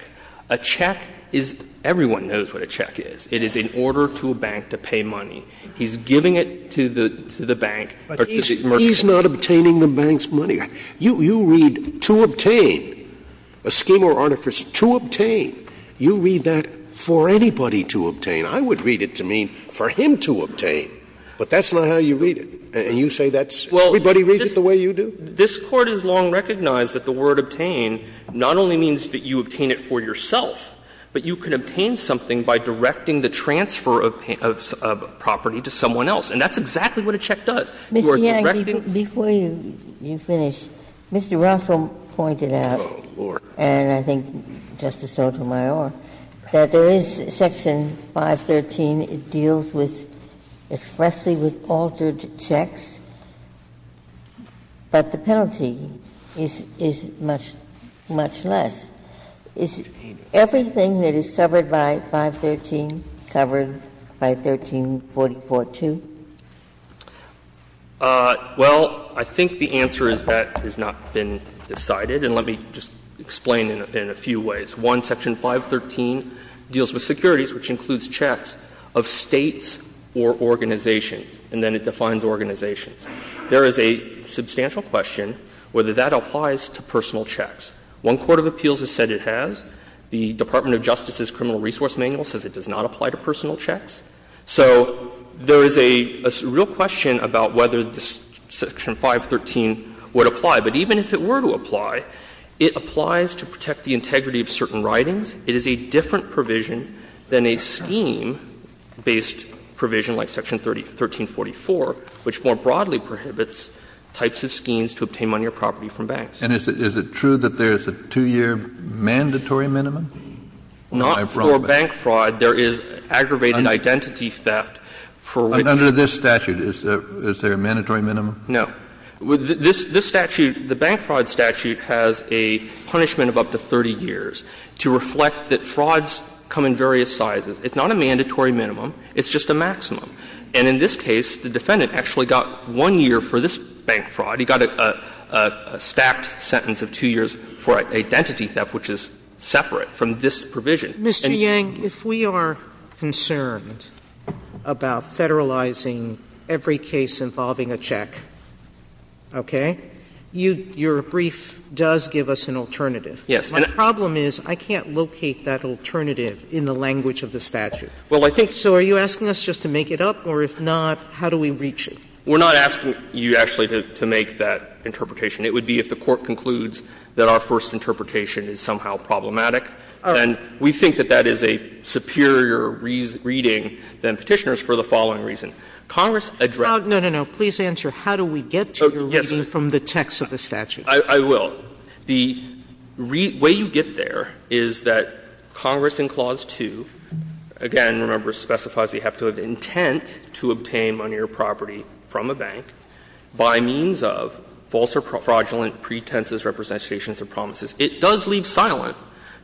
A check is — everyone knows what a check is. It is in order to a bank to pay money. He's giving it to the bank or to the merchant. Scalia. But he's not obtaining the bank's money. You read to obtain, a scheme or artifice to obtain. You read that for anybody to obtain. I would read it to mean for him to obtain. But that's not how you read it. And you say that's — everybody reads it the way you do? This Court has long recognized that the word obtain not only means that you obtain it for yourself, but you can obtain something by directing the transfer of property to someone else. And that's exactly what a check does. You are directing the check to someone else. Ginsburg. Mr. Yang, before you finish, Mr. Russell pointed out, and I think Justice Sotomayor, that there is Section 513. It deals with — expressly with altered checks, but the penalty is much, much less. Is everything that is covered by 513 covered by 1344 too? Yang, well, I think the answer is that has not been decided. And let me just explain it in a few ways. One, Section 513 deals with securities, which includes checks of States or organizations, and then it defines organizations. There is a substantial question whether that applies to personal checks. One court of appeals has said it has. The Department of Justice's criminal resource manual says it does not apply to personal checks. So there is a real question about whether Section 513 would apply. But even if it were to apply, it applies to protect the integrity of certain writings. It is a different provision than a scheme-based provision like Section 1344, which more broadly prohibits types of schemes to obtain money or property from banks. Kennedy, is it true that there is a 2-year mandatory minimum? Yang, not for bank fraud. There is aggravated identity theft for which— Kennedy, under this statute, is there a mandatory minimum? Yang, no. This statute, the bank fraud statute, has a punishment of up to 30 years to reflect that frauds come in various sizes. It's not a mandatory minimum. It's just a maximum. And in this case, the defendant actually got 1 year for this bank fraud. He got a stacked sentence of 2 years for identity theft, which is separate from this provision. Sotomayor, Mr. Yang, if we are concerned about federalizing every case involving a check, okay, your brief does give us an alternative. Yes. My problem is I can't locate that alternative in the language of the statute. Well, I think— So are you asking us just to make it up, or if not, how do we reach it? We're not asking you actually to make that interpretation. It would be if the Court concludes that our first interpretation is somehow problematic. All right. And we think that that is a superior reading than Petitioner's for the following reason. Congress addressed— No, no, no. Please answer how do we get to your reading from the text of the statute. I will. The way you get there is that Congress in Clause 2, again, remember, specifies you have to have intent to obtain money or property from a bank by means of false or fraudulent pretenses, representations, or promises. It does leave silent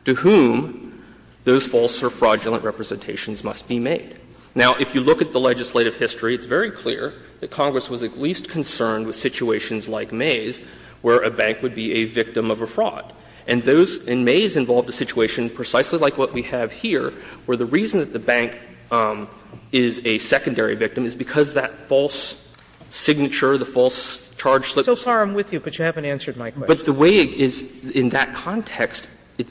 to whom those false or fraudulent representations must be made. Now, if you look at the legislative history, it's very clear that Congress was at least concerned with situations like Mays where a bank would be a victim of a fraud. And those in Mays involved a situation precisely like what we have here, where the reason that the bank is a secondary victim is because that false signature, the false charge slip— So far I'm with you, but you haven't answered my question. But the way it is in that context,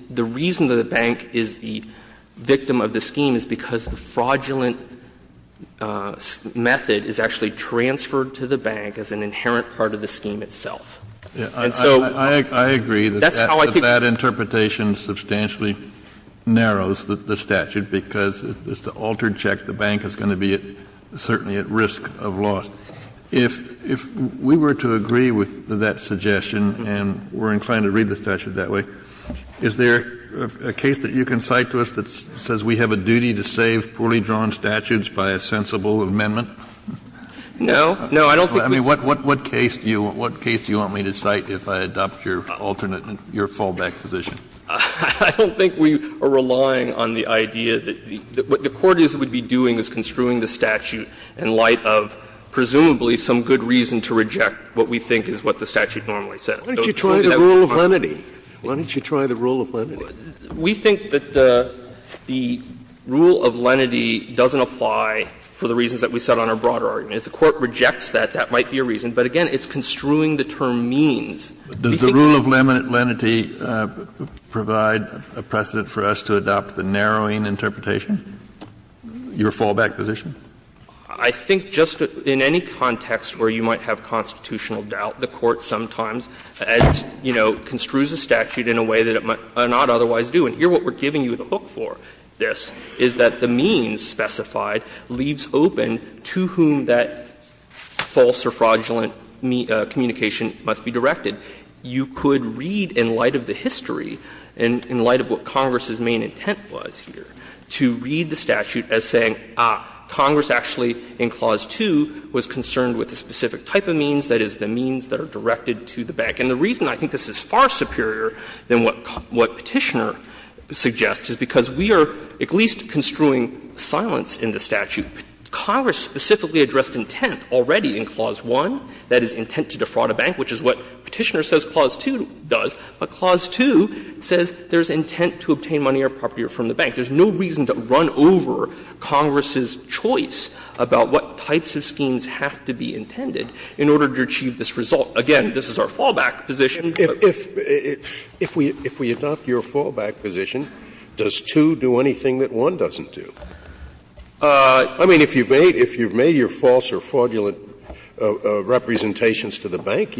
the reason that the bank is the victim of the scheme is because the fraudulent method is actually transferred to the bank as an inherent part of the scheme itself. And so— I agree that that interpretation substantially narrows the statute because it's the altered check the bank is going to be certainly at risk of loss. Kennedy, if we were to agree with that suggestion, and we're inclined to read the statute that way, is there a case that you can cite to us that says we have a duty to save poorly drawn statutes by a sensible amendment? No. No, I don't think we— I mean, what case do you want me to cite if I adopt your alternate, your fallback position? I don't think we are relying on the idea that the court would be doing is construing the statute in light of presumably some good reason to reject what we think is what the statute normally says. Why don't you try the rule of lenity? Why don't you try the rule of lenity? We think that the rule of lenity doesn't apply for the reasons that we set on our broader argument. If the Court rejects that, that might be a reason. But again, it's construing the term means. Does the rule of lenity provide a precedent for us to adopt the narrowing interpretation? Your fallback position? I think just in any context where you might have constitutional doubt, the Court sometimes, as you know, construes a statute in a way that it might not otherwise do, and here what we're giving you the hook for, this, is that the means specified leaves open to whom that false or fraudulent communication must be directed. You could read in light of the history and in light of what Congress's main intent was here to read the statute as saying, ah, Congress actually in Clause 2 was concerned with a specific type of means, that is, the means that are directed to the bank. And the reason I think this is far superior than what Petitioner suggests is because we are at least construing silence in the statute. Congress specifically addressed intent already in Clause 1, that is, intent to defraud a bank, which is what Petitioner says Clause 2 does. But Clause 2 says there is intent to obtain money or property from the bank. There is no reason to run over Congress's choice about what types of schemes have to be intended in order to achieve this result. Again, this is our fallback position. Scalia. If we adopt your fallback position, does 2 do anything that 1 doesn't do? I mean, if you've made your false or fraudulent representations to the bank,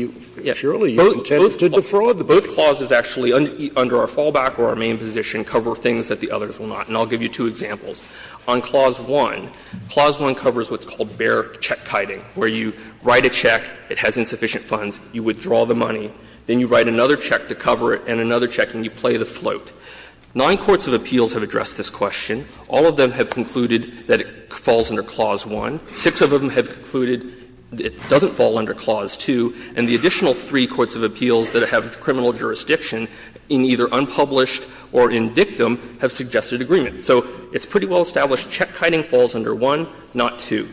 surely you intend to defraud. Well, both clauses actually under our fallback or our main position cover things that the others will not. And I'll give you two examples. On Clause 1, Clause 1 covers what's called bare check-kiting, where you write a check, it has insufficient funds, you withdraw the money, then you write another check to cover it and another check and you play the float. Nine courts of appeals have addressed this question. All of them have concluded that it falls under Clause 1. Six of them have concluded it doesn't fall under Clause 2. And the additional three courts of appeals that have criminal jurisdiction in either unpublished or in dictum have suggested agreement. So it's pretty well established check-kiting falls under 1, not 2.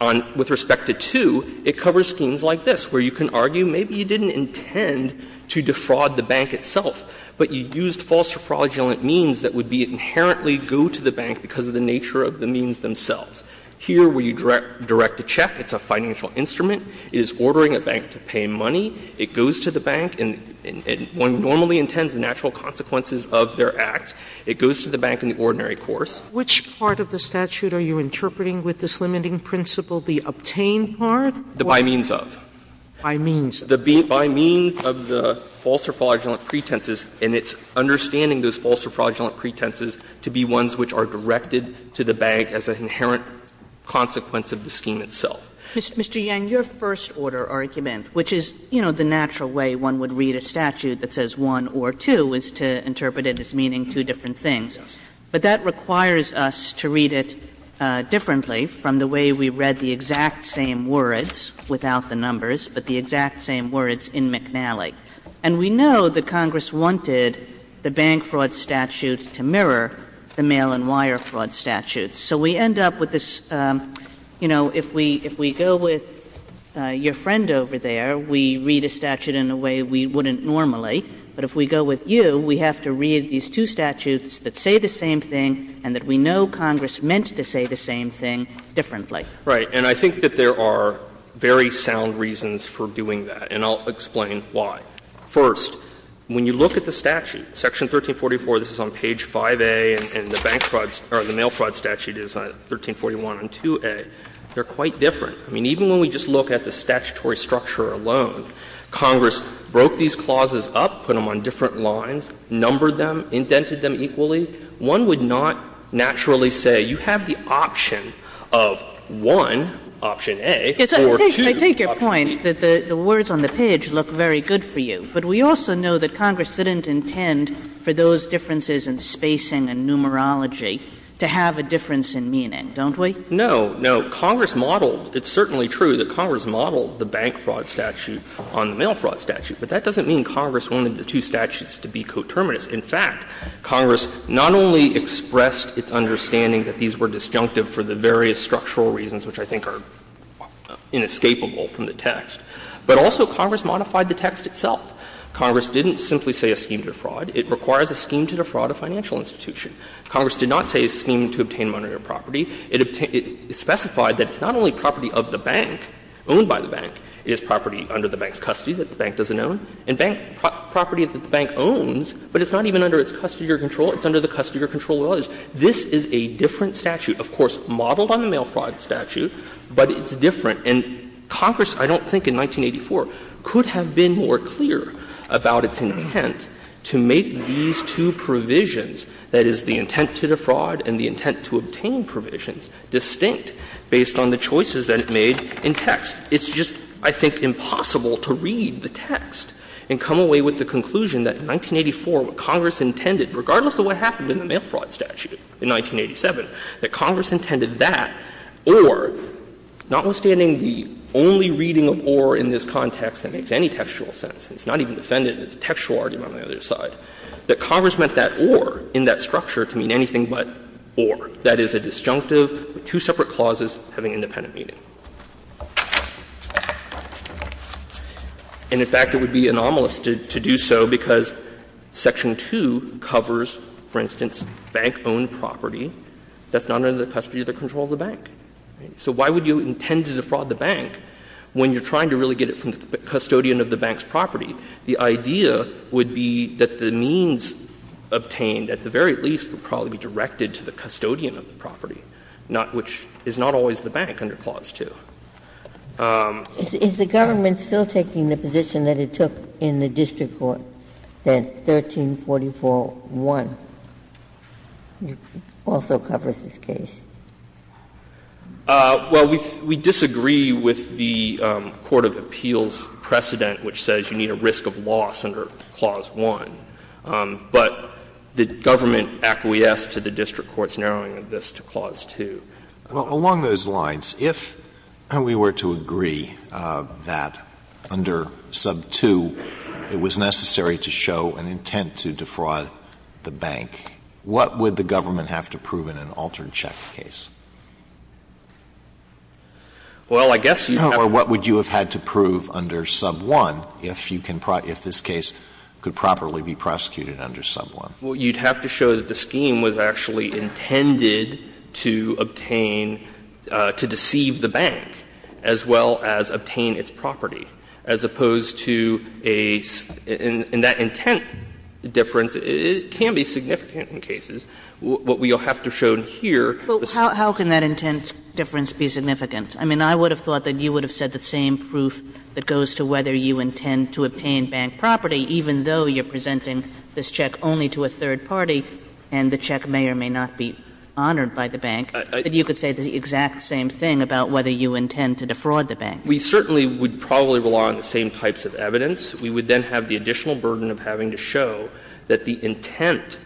On with respect to 2, it covers schemes like this, where you can argue maybe you didn't intend to defraud the bank itself, but you used false or fraudulent means that would be inherently due to the bank because of the nature of the means themselves. Here, where you direct a check, it's a financial instrument. It is ordering a bank to pay money. It goes to the bank, and one normally intends the natural consequences of their acts. It goes to the bank in the ordinary course. Sotomayor, which part of the statute are you interpreting with this limiting principle, the obtained part? By means of. By means of. By means of the false or fraudulent pretenses, and it's understanding those false or fraudulent pretenses to be ones which are directed to the bank as an inherent consequence of the scheme itself. Mr. Yang, your first order argument, which is, you know, the natural way one would read a statute that says 1 or 2, is to interpret it as meaning two different things. But that requires us to read it differently from the way we read the exact same words, without the numbers, but the exact same words in McNally. And we know that Congress wanted the bank fraud statute to mirror the mail and wire fraud statute. So we end up with this, you know, if we go with your friend over there, we read a statute in a way we wouldn't normally. But if we go with you, we have to read these two statutes that say the same thing and that we know Congress meant to say the same thing differently. Right. And I think that there are very sound reasons for doing that, and I'll explain why. First, when you look at the statute, Section 1344, this is on page 5A, and the mail fraud statute is 1341 on 2A. They're quite different. I mean, even when we just look at the statutory structure alone, Congress broke these clauses up, put them on different lines, numbered them, indented them equally, one would not naturally say you have the option of one, option A, or two, option B. Kagan. Kagan. Kagan. Kagan. Kagan. Kagan. Kagan. Kagan. Kagan. Kagan. Kagan. Kagan. Kagan. Kagan. Kagan. And we have a difference in meaning, don't we? No. No. Congress modeled. It's certainly true that Congress modeled the bank fraud statute on the mail fraud statute, but that doesn't mean Congress wanted the two statutes to be coterminous. In fact, Congress not only expressed its understanding that these were disjunctive for the various structural reasons which I think are inescapable from the text, but also Congress modified the text itself. Congress didn't simply say a scheme to defraud. It requires a scheme to defraud a financial institution. Congress did not say a scheme to obtain monetary property. It specified that it's not only property of the bank, owned by the bank, it is property under the bank's custody that the bank doesn't own, and property that the bank owns, but it's not even under its custody or control. It's under the custody or control of others. This is a different statute, of course, modeled on the mail fraud statute, but it's different. And Congress, I don't think in 1984, could have been more clear about its intent to make these two provisions, that is, the intent to defraud and the intent to obtain provisions, distinct based on the choices that it made in text. It's just, I think, impossible to read the text and come away with the conclusion that in 1984 what Congress intended, regardless of what happened in the mail fraud statute in 1987, that Congress intended that or, notwithstanding the only reading of or in this context that makes any textual sense, it's not even defended as a textual argument on the other side, that Congress meant that or in that structure to mean anything but or, that is, a disjunctive with two separate clauses having independent meaning. And, in fact, it would be anomalous to do so because section 2 covers, for instance, bank-owned property that's not under the custody or control of the bank. So why would you intend to defraud the bank when you're trying to really get it from the custodian of the bank's property? The idea would be that the means obtained, at the very least, would probably be directed to the custodian of the property, not which is not always the bank under Clause 2. Ginsburg. Is the government still taking the position that it took in the district court, that 1344.1 also covers this case? Well, we disagree with the court of appeals precedent which says you need a reasonable risk of loss under Clause 1. But the government acquiesced to the district court's narrowing of this to Clause 2. Well, along those lines, if we were to agree that under sub 2 it was necessary to show an intent to defraud the bank, what would the government have to prove in an altered check case? Well, I guess you'd have to prove. You'd have to prove under sub 1 if you can, if this case could properly be prosecuted under sub 1. Well, you'd have to show that the scheme was actually intended to obtain, to deceive the bank, as well as obtain its property, as opposed to a, and that intent difference can be significant in cases. What we'll have to show here is that the scheme is not significant. Well, how can that intent difference be significant? I mean, I would have thought that you would have said the same proof that goes to whether you intend to obtain bank property, even though you're presenting this check only to a third party and the check may or may not be honored by the bank, that you could say the exact same thing about whether you intend to defraud the bank. We certainly would probably rely on the same types of evidence. We would then have the additional burden of having to show that the intent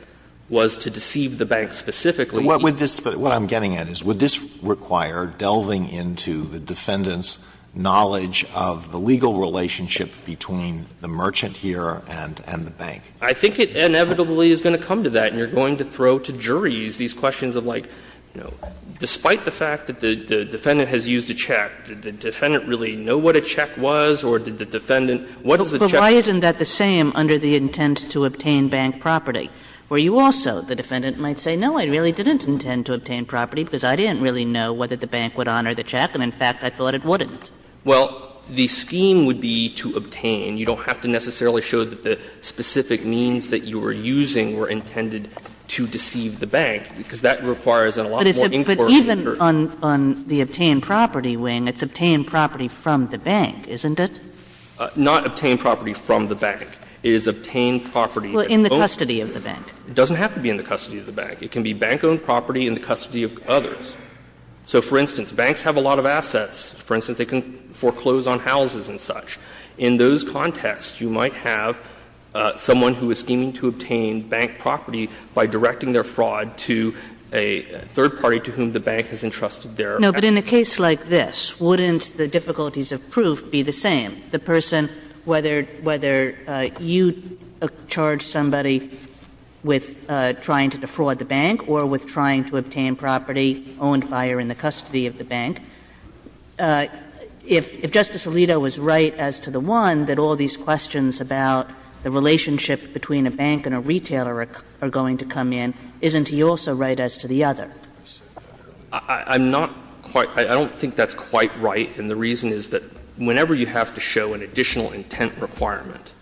was to deceive the bank specifically. Alito, what would this, what I'm getting at is, would this require delving into the defendant's knowledge of the legal relationship between the merchant here and the bank? I think it inevitably is going to come to that, and you're going to throw to juries these questions of like, you know, despite the fact that the defendant has used a check, did the defendant really know what a check was, or did the defendant, what is the check? But why isn't that the same under the intent to obtain bank property, where you also, the defendant might say, no, I really didn't intend to obtain property because I didn't really know whether the bank would honor the check, and in fact, I thought it wouldn't? Well, the scheme would be to obtain. You don't have to necessarily show that the specific means that you were using were intended to deceive the bank, because that requires a lot more inquiry. But even on the obtain property wing, it's obtain property from the bank, isn't Not obtain property from the bank. It is obtain property that owns the bank. Well, in the custody of the bank. It doesn't have to be in the custody of the bank. It can be bank-owned property in the custody of others. So, for instance, banks have a lot of assets. For instance, they can foreclose on houses and such. In those contexts, you might have someone who is scheming to obtain bank property by directing their fraud to a third party to whom the bank has entrusted their assets. Kagan. Kagan. But in a case like this, wouldn't the difficulties of proof be the same? The person, whether you charge somebody with trying to defraud the bank or with trying to obtain property owned by or in the custody of the bank, if Justice Alito was right as to the one, that all these questions about the relationship between a bank and a retailer are going to come in, isn't he also right as to the other? I'm not quite ‑‑ I don't think that's quite right, and the reason is that whenever you have to show an additional intent requirement,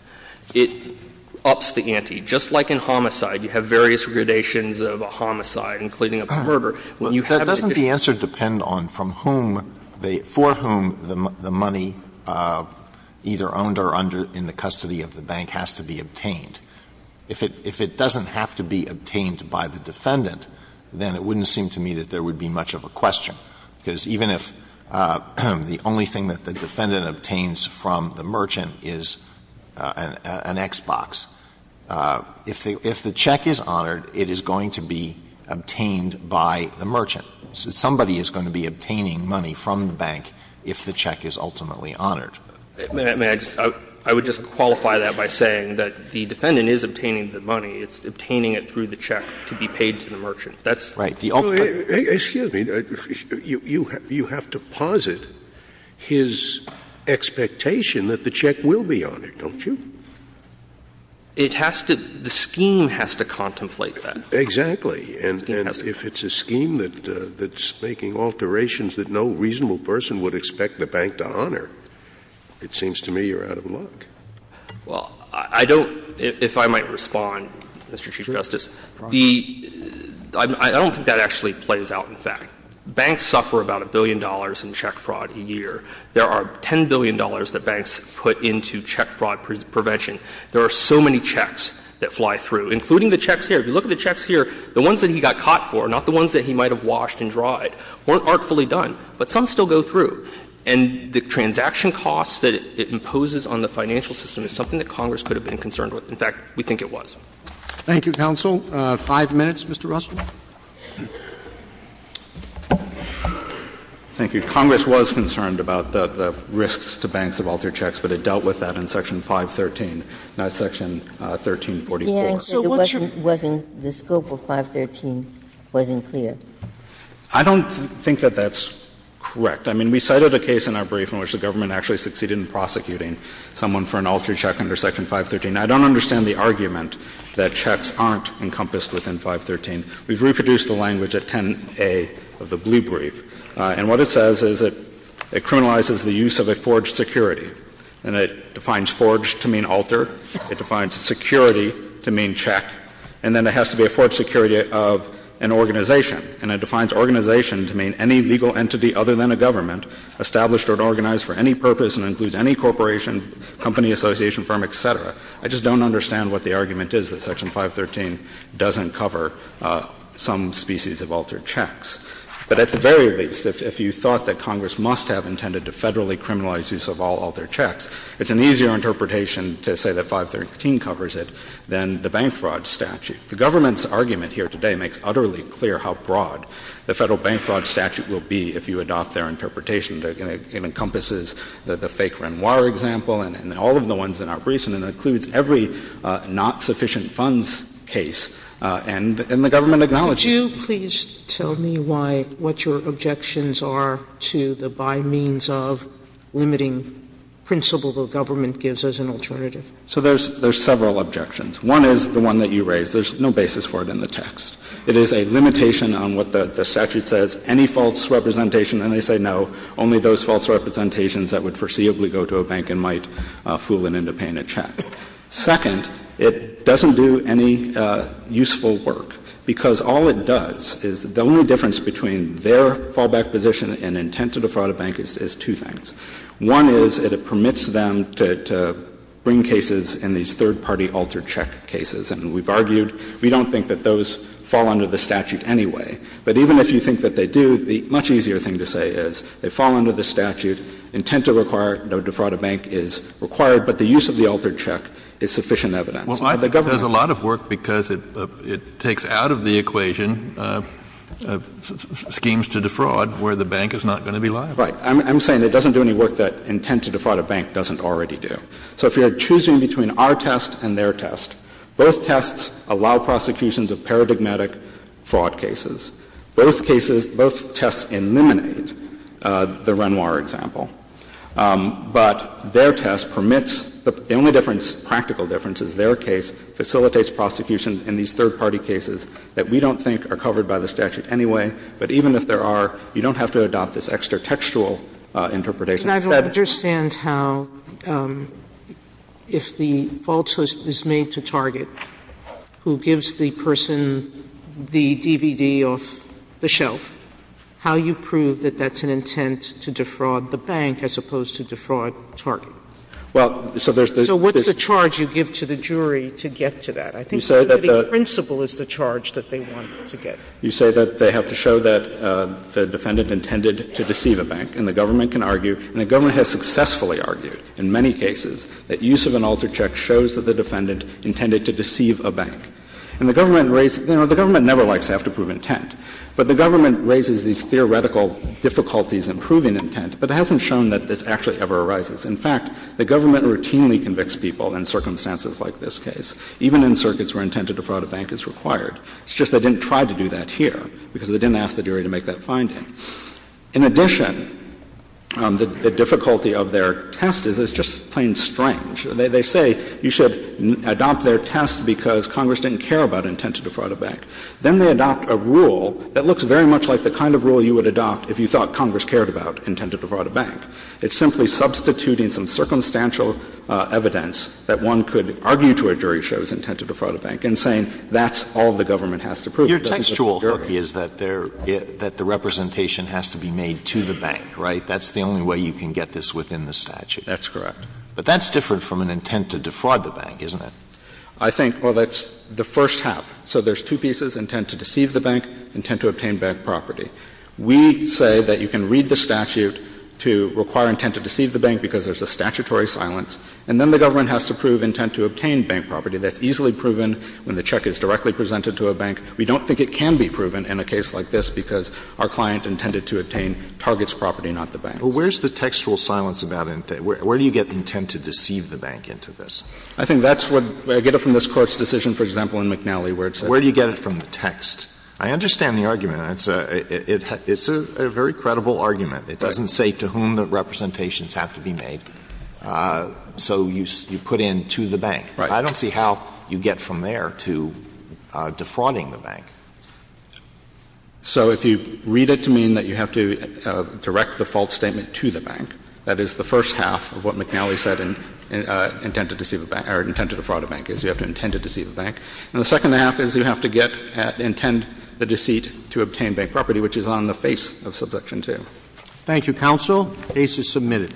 it ups the ante. Just like in homicide, you have various gradations of a homicide, including a murder. When you have an additional ‑‑ Alito, that doesn't the answer depend on from whom the ‑‑ for whom the money either owned or under in the custody of the bank has to be obtained. If it doesn't have to be obtained by the defendant, then it wouldn't seem to me that there would be much of a question, because even if the only thing that the defendant obtains from the merchant is an X‑box, if the check is honored, it is going to be obtained by the merchant. Somebody is going to be obtaining money from the bank if the check is ultimately honored. May I just ‑‑ I would just qualify that by saying that the defendant is obtaining the money. It's obtaining it through the check to be paid to the merchant. That's the ultimate ‑‑ expectation that the check will be honored, don't you? It has to ‑‑ the scheme has to contemplate that. Exactly. And if it's a scheme that's making alterations that no reasonable person would expect the bank to honor, it seems to me you're out of luck. Well, I don't ‑‑ if I might respond, Mr. Chief Justice, the ‑‑ I don't think that actually plays out in fact. Banks suffer about a billion dollars in check fraud a year. There are $10 billion that banks put into check fraud prevention. There are so many checks that fly through, including the checks here. If you look at the checks here, the ones that he got caught for, not the ones that he might have washed and dried, weren't artfully done. But some still go through. And the transaction costs that it imposes on the financial system is something that Congress could have been concerned with. In fact, we think it was. Thank you, counsel. Five minutes, Mr. Russell. Thank you. I think Congress was concerned about the risks to banks of altered checks, but it dealt with that in Section 513, not Section 1344. So what's your ‑‑ The answer wasn't ‑‑ the scope of 513 wasn't clear. I don't think that that's correct. I mean, we cited a case in our brief in which the government actually succeeded in prosecuting someone for an altered check under Section 513. I don't understand the argument that checks aren't encompassed within 513. We've reproduced the language at 10a of the blue brief. And what it says is that it criminalizes the use of a forged security. And it defines forged to mean altered. It defines security to mean check. And then it has to be a forged security of an organization. And it defines organization to mean any legal entity other than a government, established or organized for any purpose and includes any corporation, company, association, firm, et cetera. I just don't understand what the argument is that Section 513 doesn't cover some species of altered checks. But at the very least, if you thought that Congress must have intended to federally criminalize use of all altered checks, it's an easier interpretation to say that 513 covers it than the bank fraud statute. The government's argument here today makes utterly clear how broad the federal bank fraud statute will be if you adopt their interpretation. It encompasses the fake Renoir example and all of the ones in our briefs. And it includes every not sufficient funds case and the government acknowledges Sotomayor, could you please tell me why, what your objections are to the by means of limiting principle the government gives as an alternative? So there's several objections. One is the one that you raised. There's no basis for it in the text. It is a limitation on what the statute says, any false representation. And they say no, only those false representations that would foreseeably go to a bank and might fool it into paying a check. Second, it doesn't do any useful work, because all it does is the only difference between their fallback position and intent to defraud a bank is two things. One is that it permits them to bring cases in these third-party altered check cases. And we've argued we don't think that those fall under the statute anyway. But even if you think that they do, the much easier thing to say is they fall under the statute, intent to require, no, defraud a bank is required, but the use of the third-party altered check is sufficient evidence. Kennedy, I think there's a lot of work because it takes out of the equation schemes to defraud where the bank is not going to be liable. Right. I'm saying it doesn't do any work that intent to defraud a bank doesn't already do. So if you're choosing between our test and their test, both tests allow prosecutions of paradigmatic fraud cases. Both cases, both tests eliminate the Renoir example. But their test permits the only difference, practical difference, is their case facilitates prosecution in these third-party cases that we don't think are covered by the statute anyway. But even if there are, you don't have to adopt this extratextual interpretation. Sotomayor, I don't understand how, if the fault is made to Target, who gives the person the DVD off the shelf, how you prove that that's an intent to defraud the bank as opposed to defraud Target. So what's the charge you give to the jury to get to that? I think the principal is the charge that they want to get. You say that they have to show that the defendant intended to deceive a bank. And the government can argue, and the government has successfully argued in many cases, that use of an altered check shows that the defendant intended to deceive a bank. And the government raised — you know, the government never likes to have to prove intent. But the government raises these theoretical difficulties in proving intent, but it hasn't shown that this actually ever arises. In fact, the government routinely convicts people in circumstances like this case, even in circuits where intent to defraud a bank is required. It's just they didn't try to do that here because they didn't ask the jury to make that finding. In addition, the difficulty of their test is it's just plain strange. They say you should adopt their test because Congress didn't care about intent to defraud a bank. Then they adopt a rule that looks very much like the kind of rule you would adopt if you thought Congress cared about intent to defraud a bank. It's simply substituting some circumstantial evidence that one could argue to a jury shows intent to defraud a bank and saying that's all the government has to prove. That's a theory. Alito, your textual hierarchy is that the representation has to be made to the bank, right? That's the only way you can get this within the statute. That's correct. But that's different from an intent to defraud the bank, isn't it? I think, well, that's the first half. So there's two pieces, intent to deceive the bank, intent to obtain bank property. We say that you can read the statute to require intent to deceive the bank because there's a statutory silence, and then the government has to prove intent to obtain bank property. That's easily proven when the check is directly presented to a bank. We don't think it can be proven in a case like this because our client intended to obtain Target's property, not the bank's. Well, where's the textual silence about intent? Where do you get intent to deceive the bank into this? I think that's what we get from this Court's decision, for example, in McNally, where it says that. Where do you get it from the text? I understand the argument. It's a very credible argument. It doesn't say to whom the representations have to be made. So you put in to the bank. Right. I don't see how you get from there to defrauding the bank. So if you read it to mean that you have to direct the false statement to the bank, that is the first half of what McNally said in intent to deceive the bank, or intent to defraud a bank, is you have to intend to deceive the bank. And the second half is you have to get at, intend the deceit to obtain bank property, which is on the face of Subsection 2. Thank you, counsel. The case is submitted.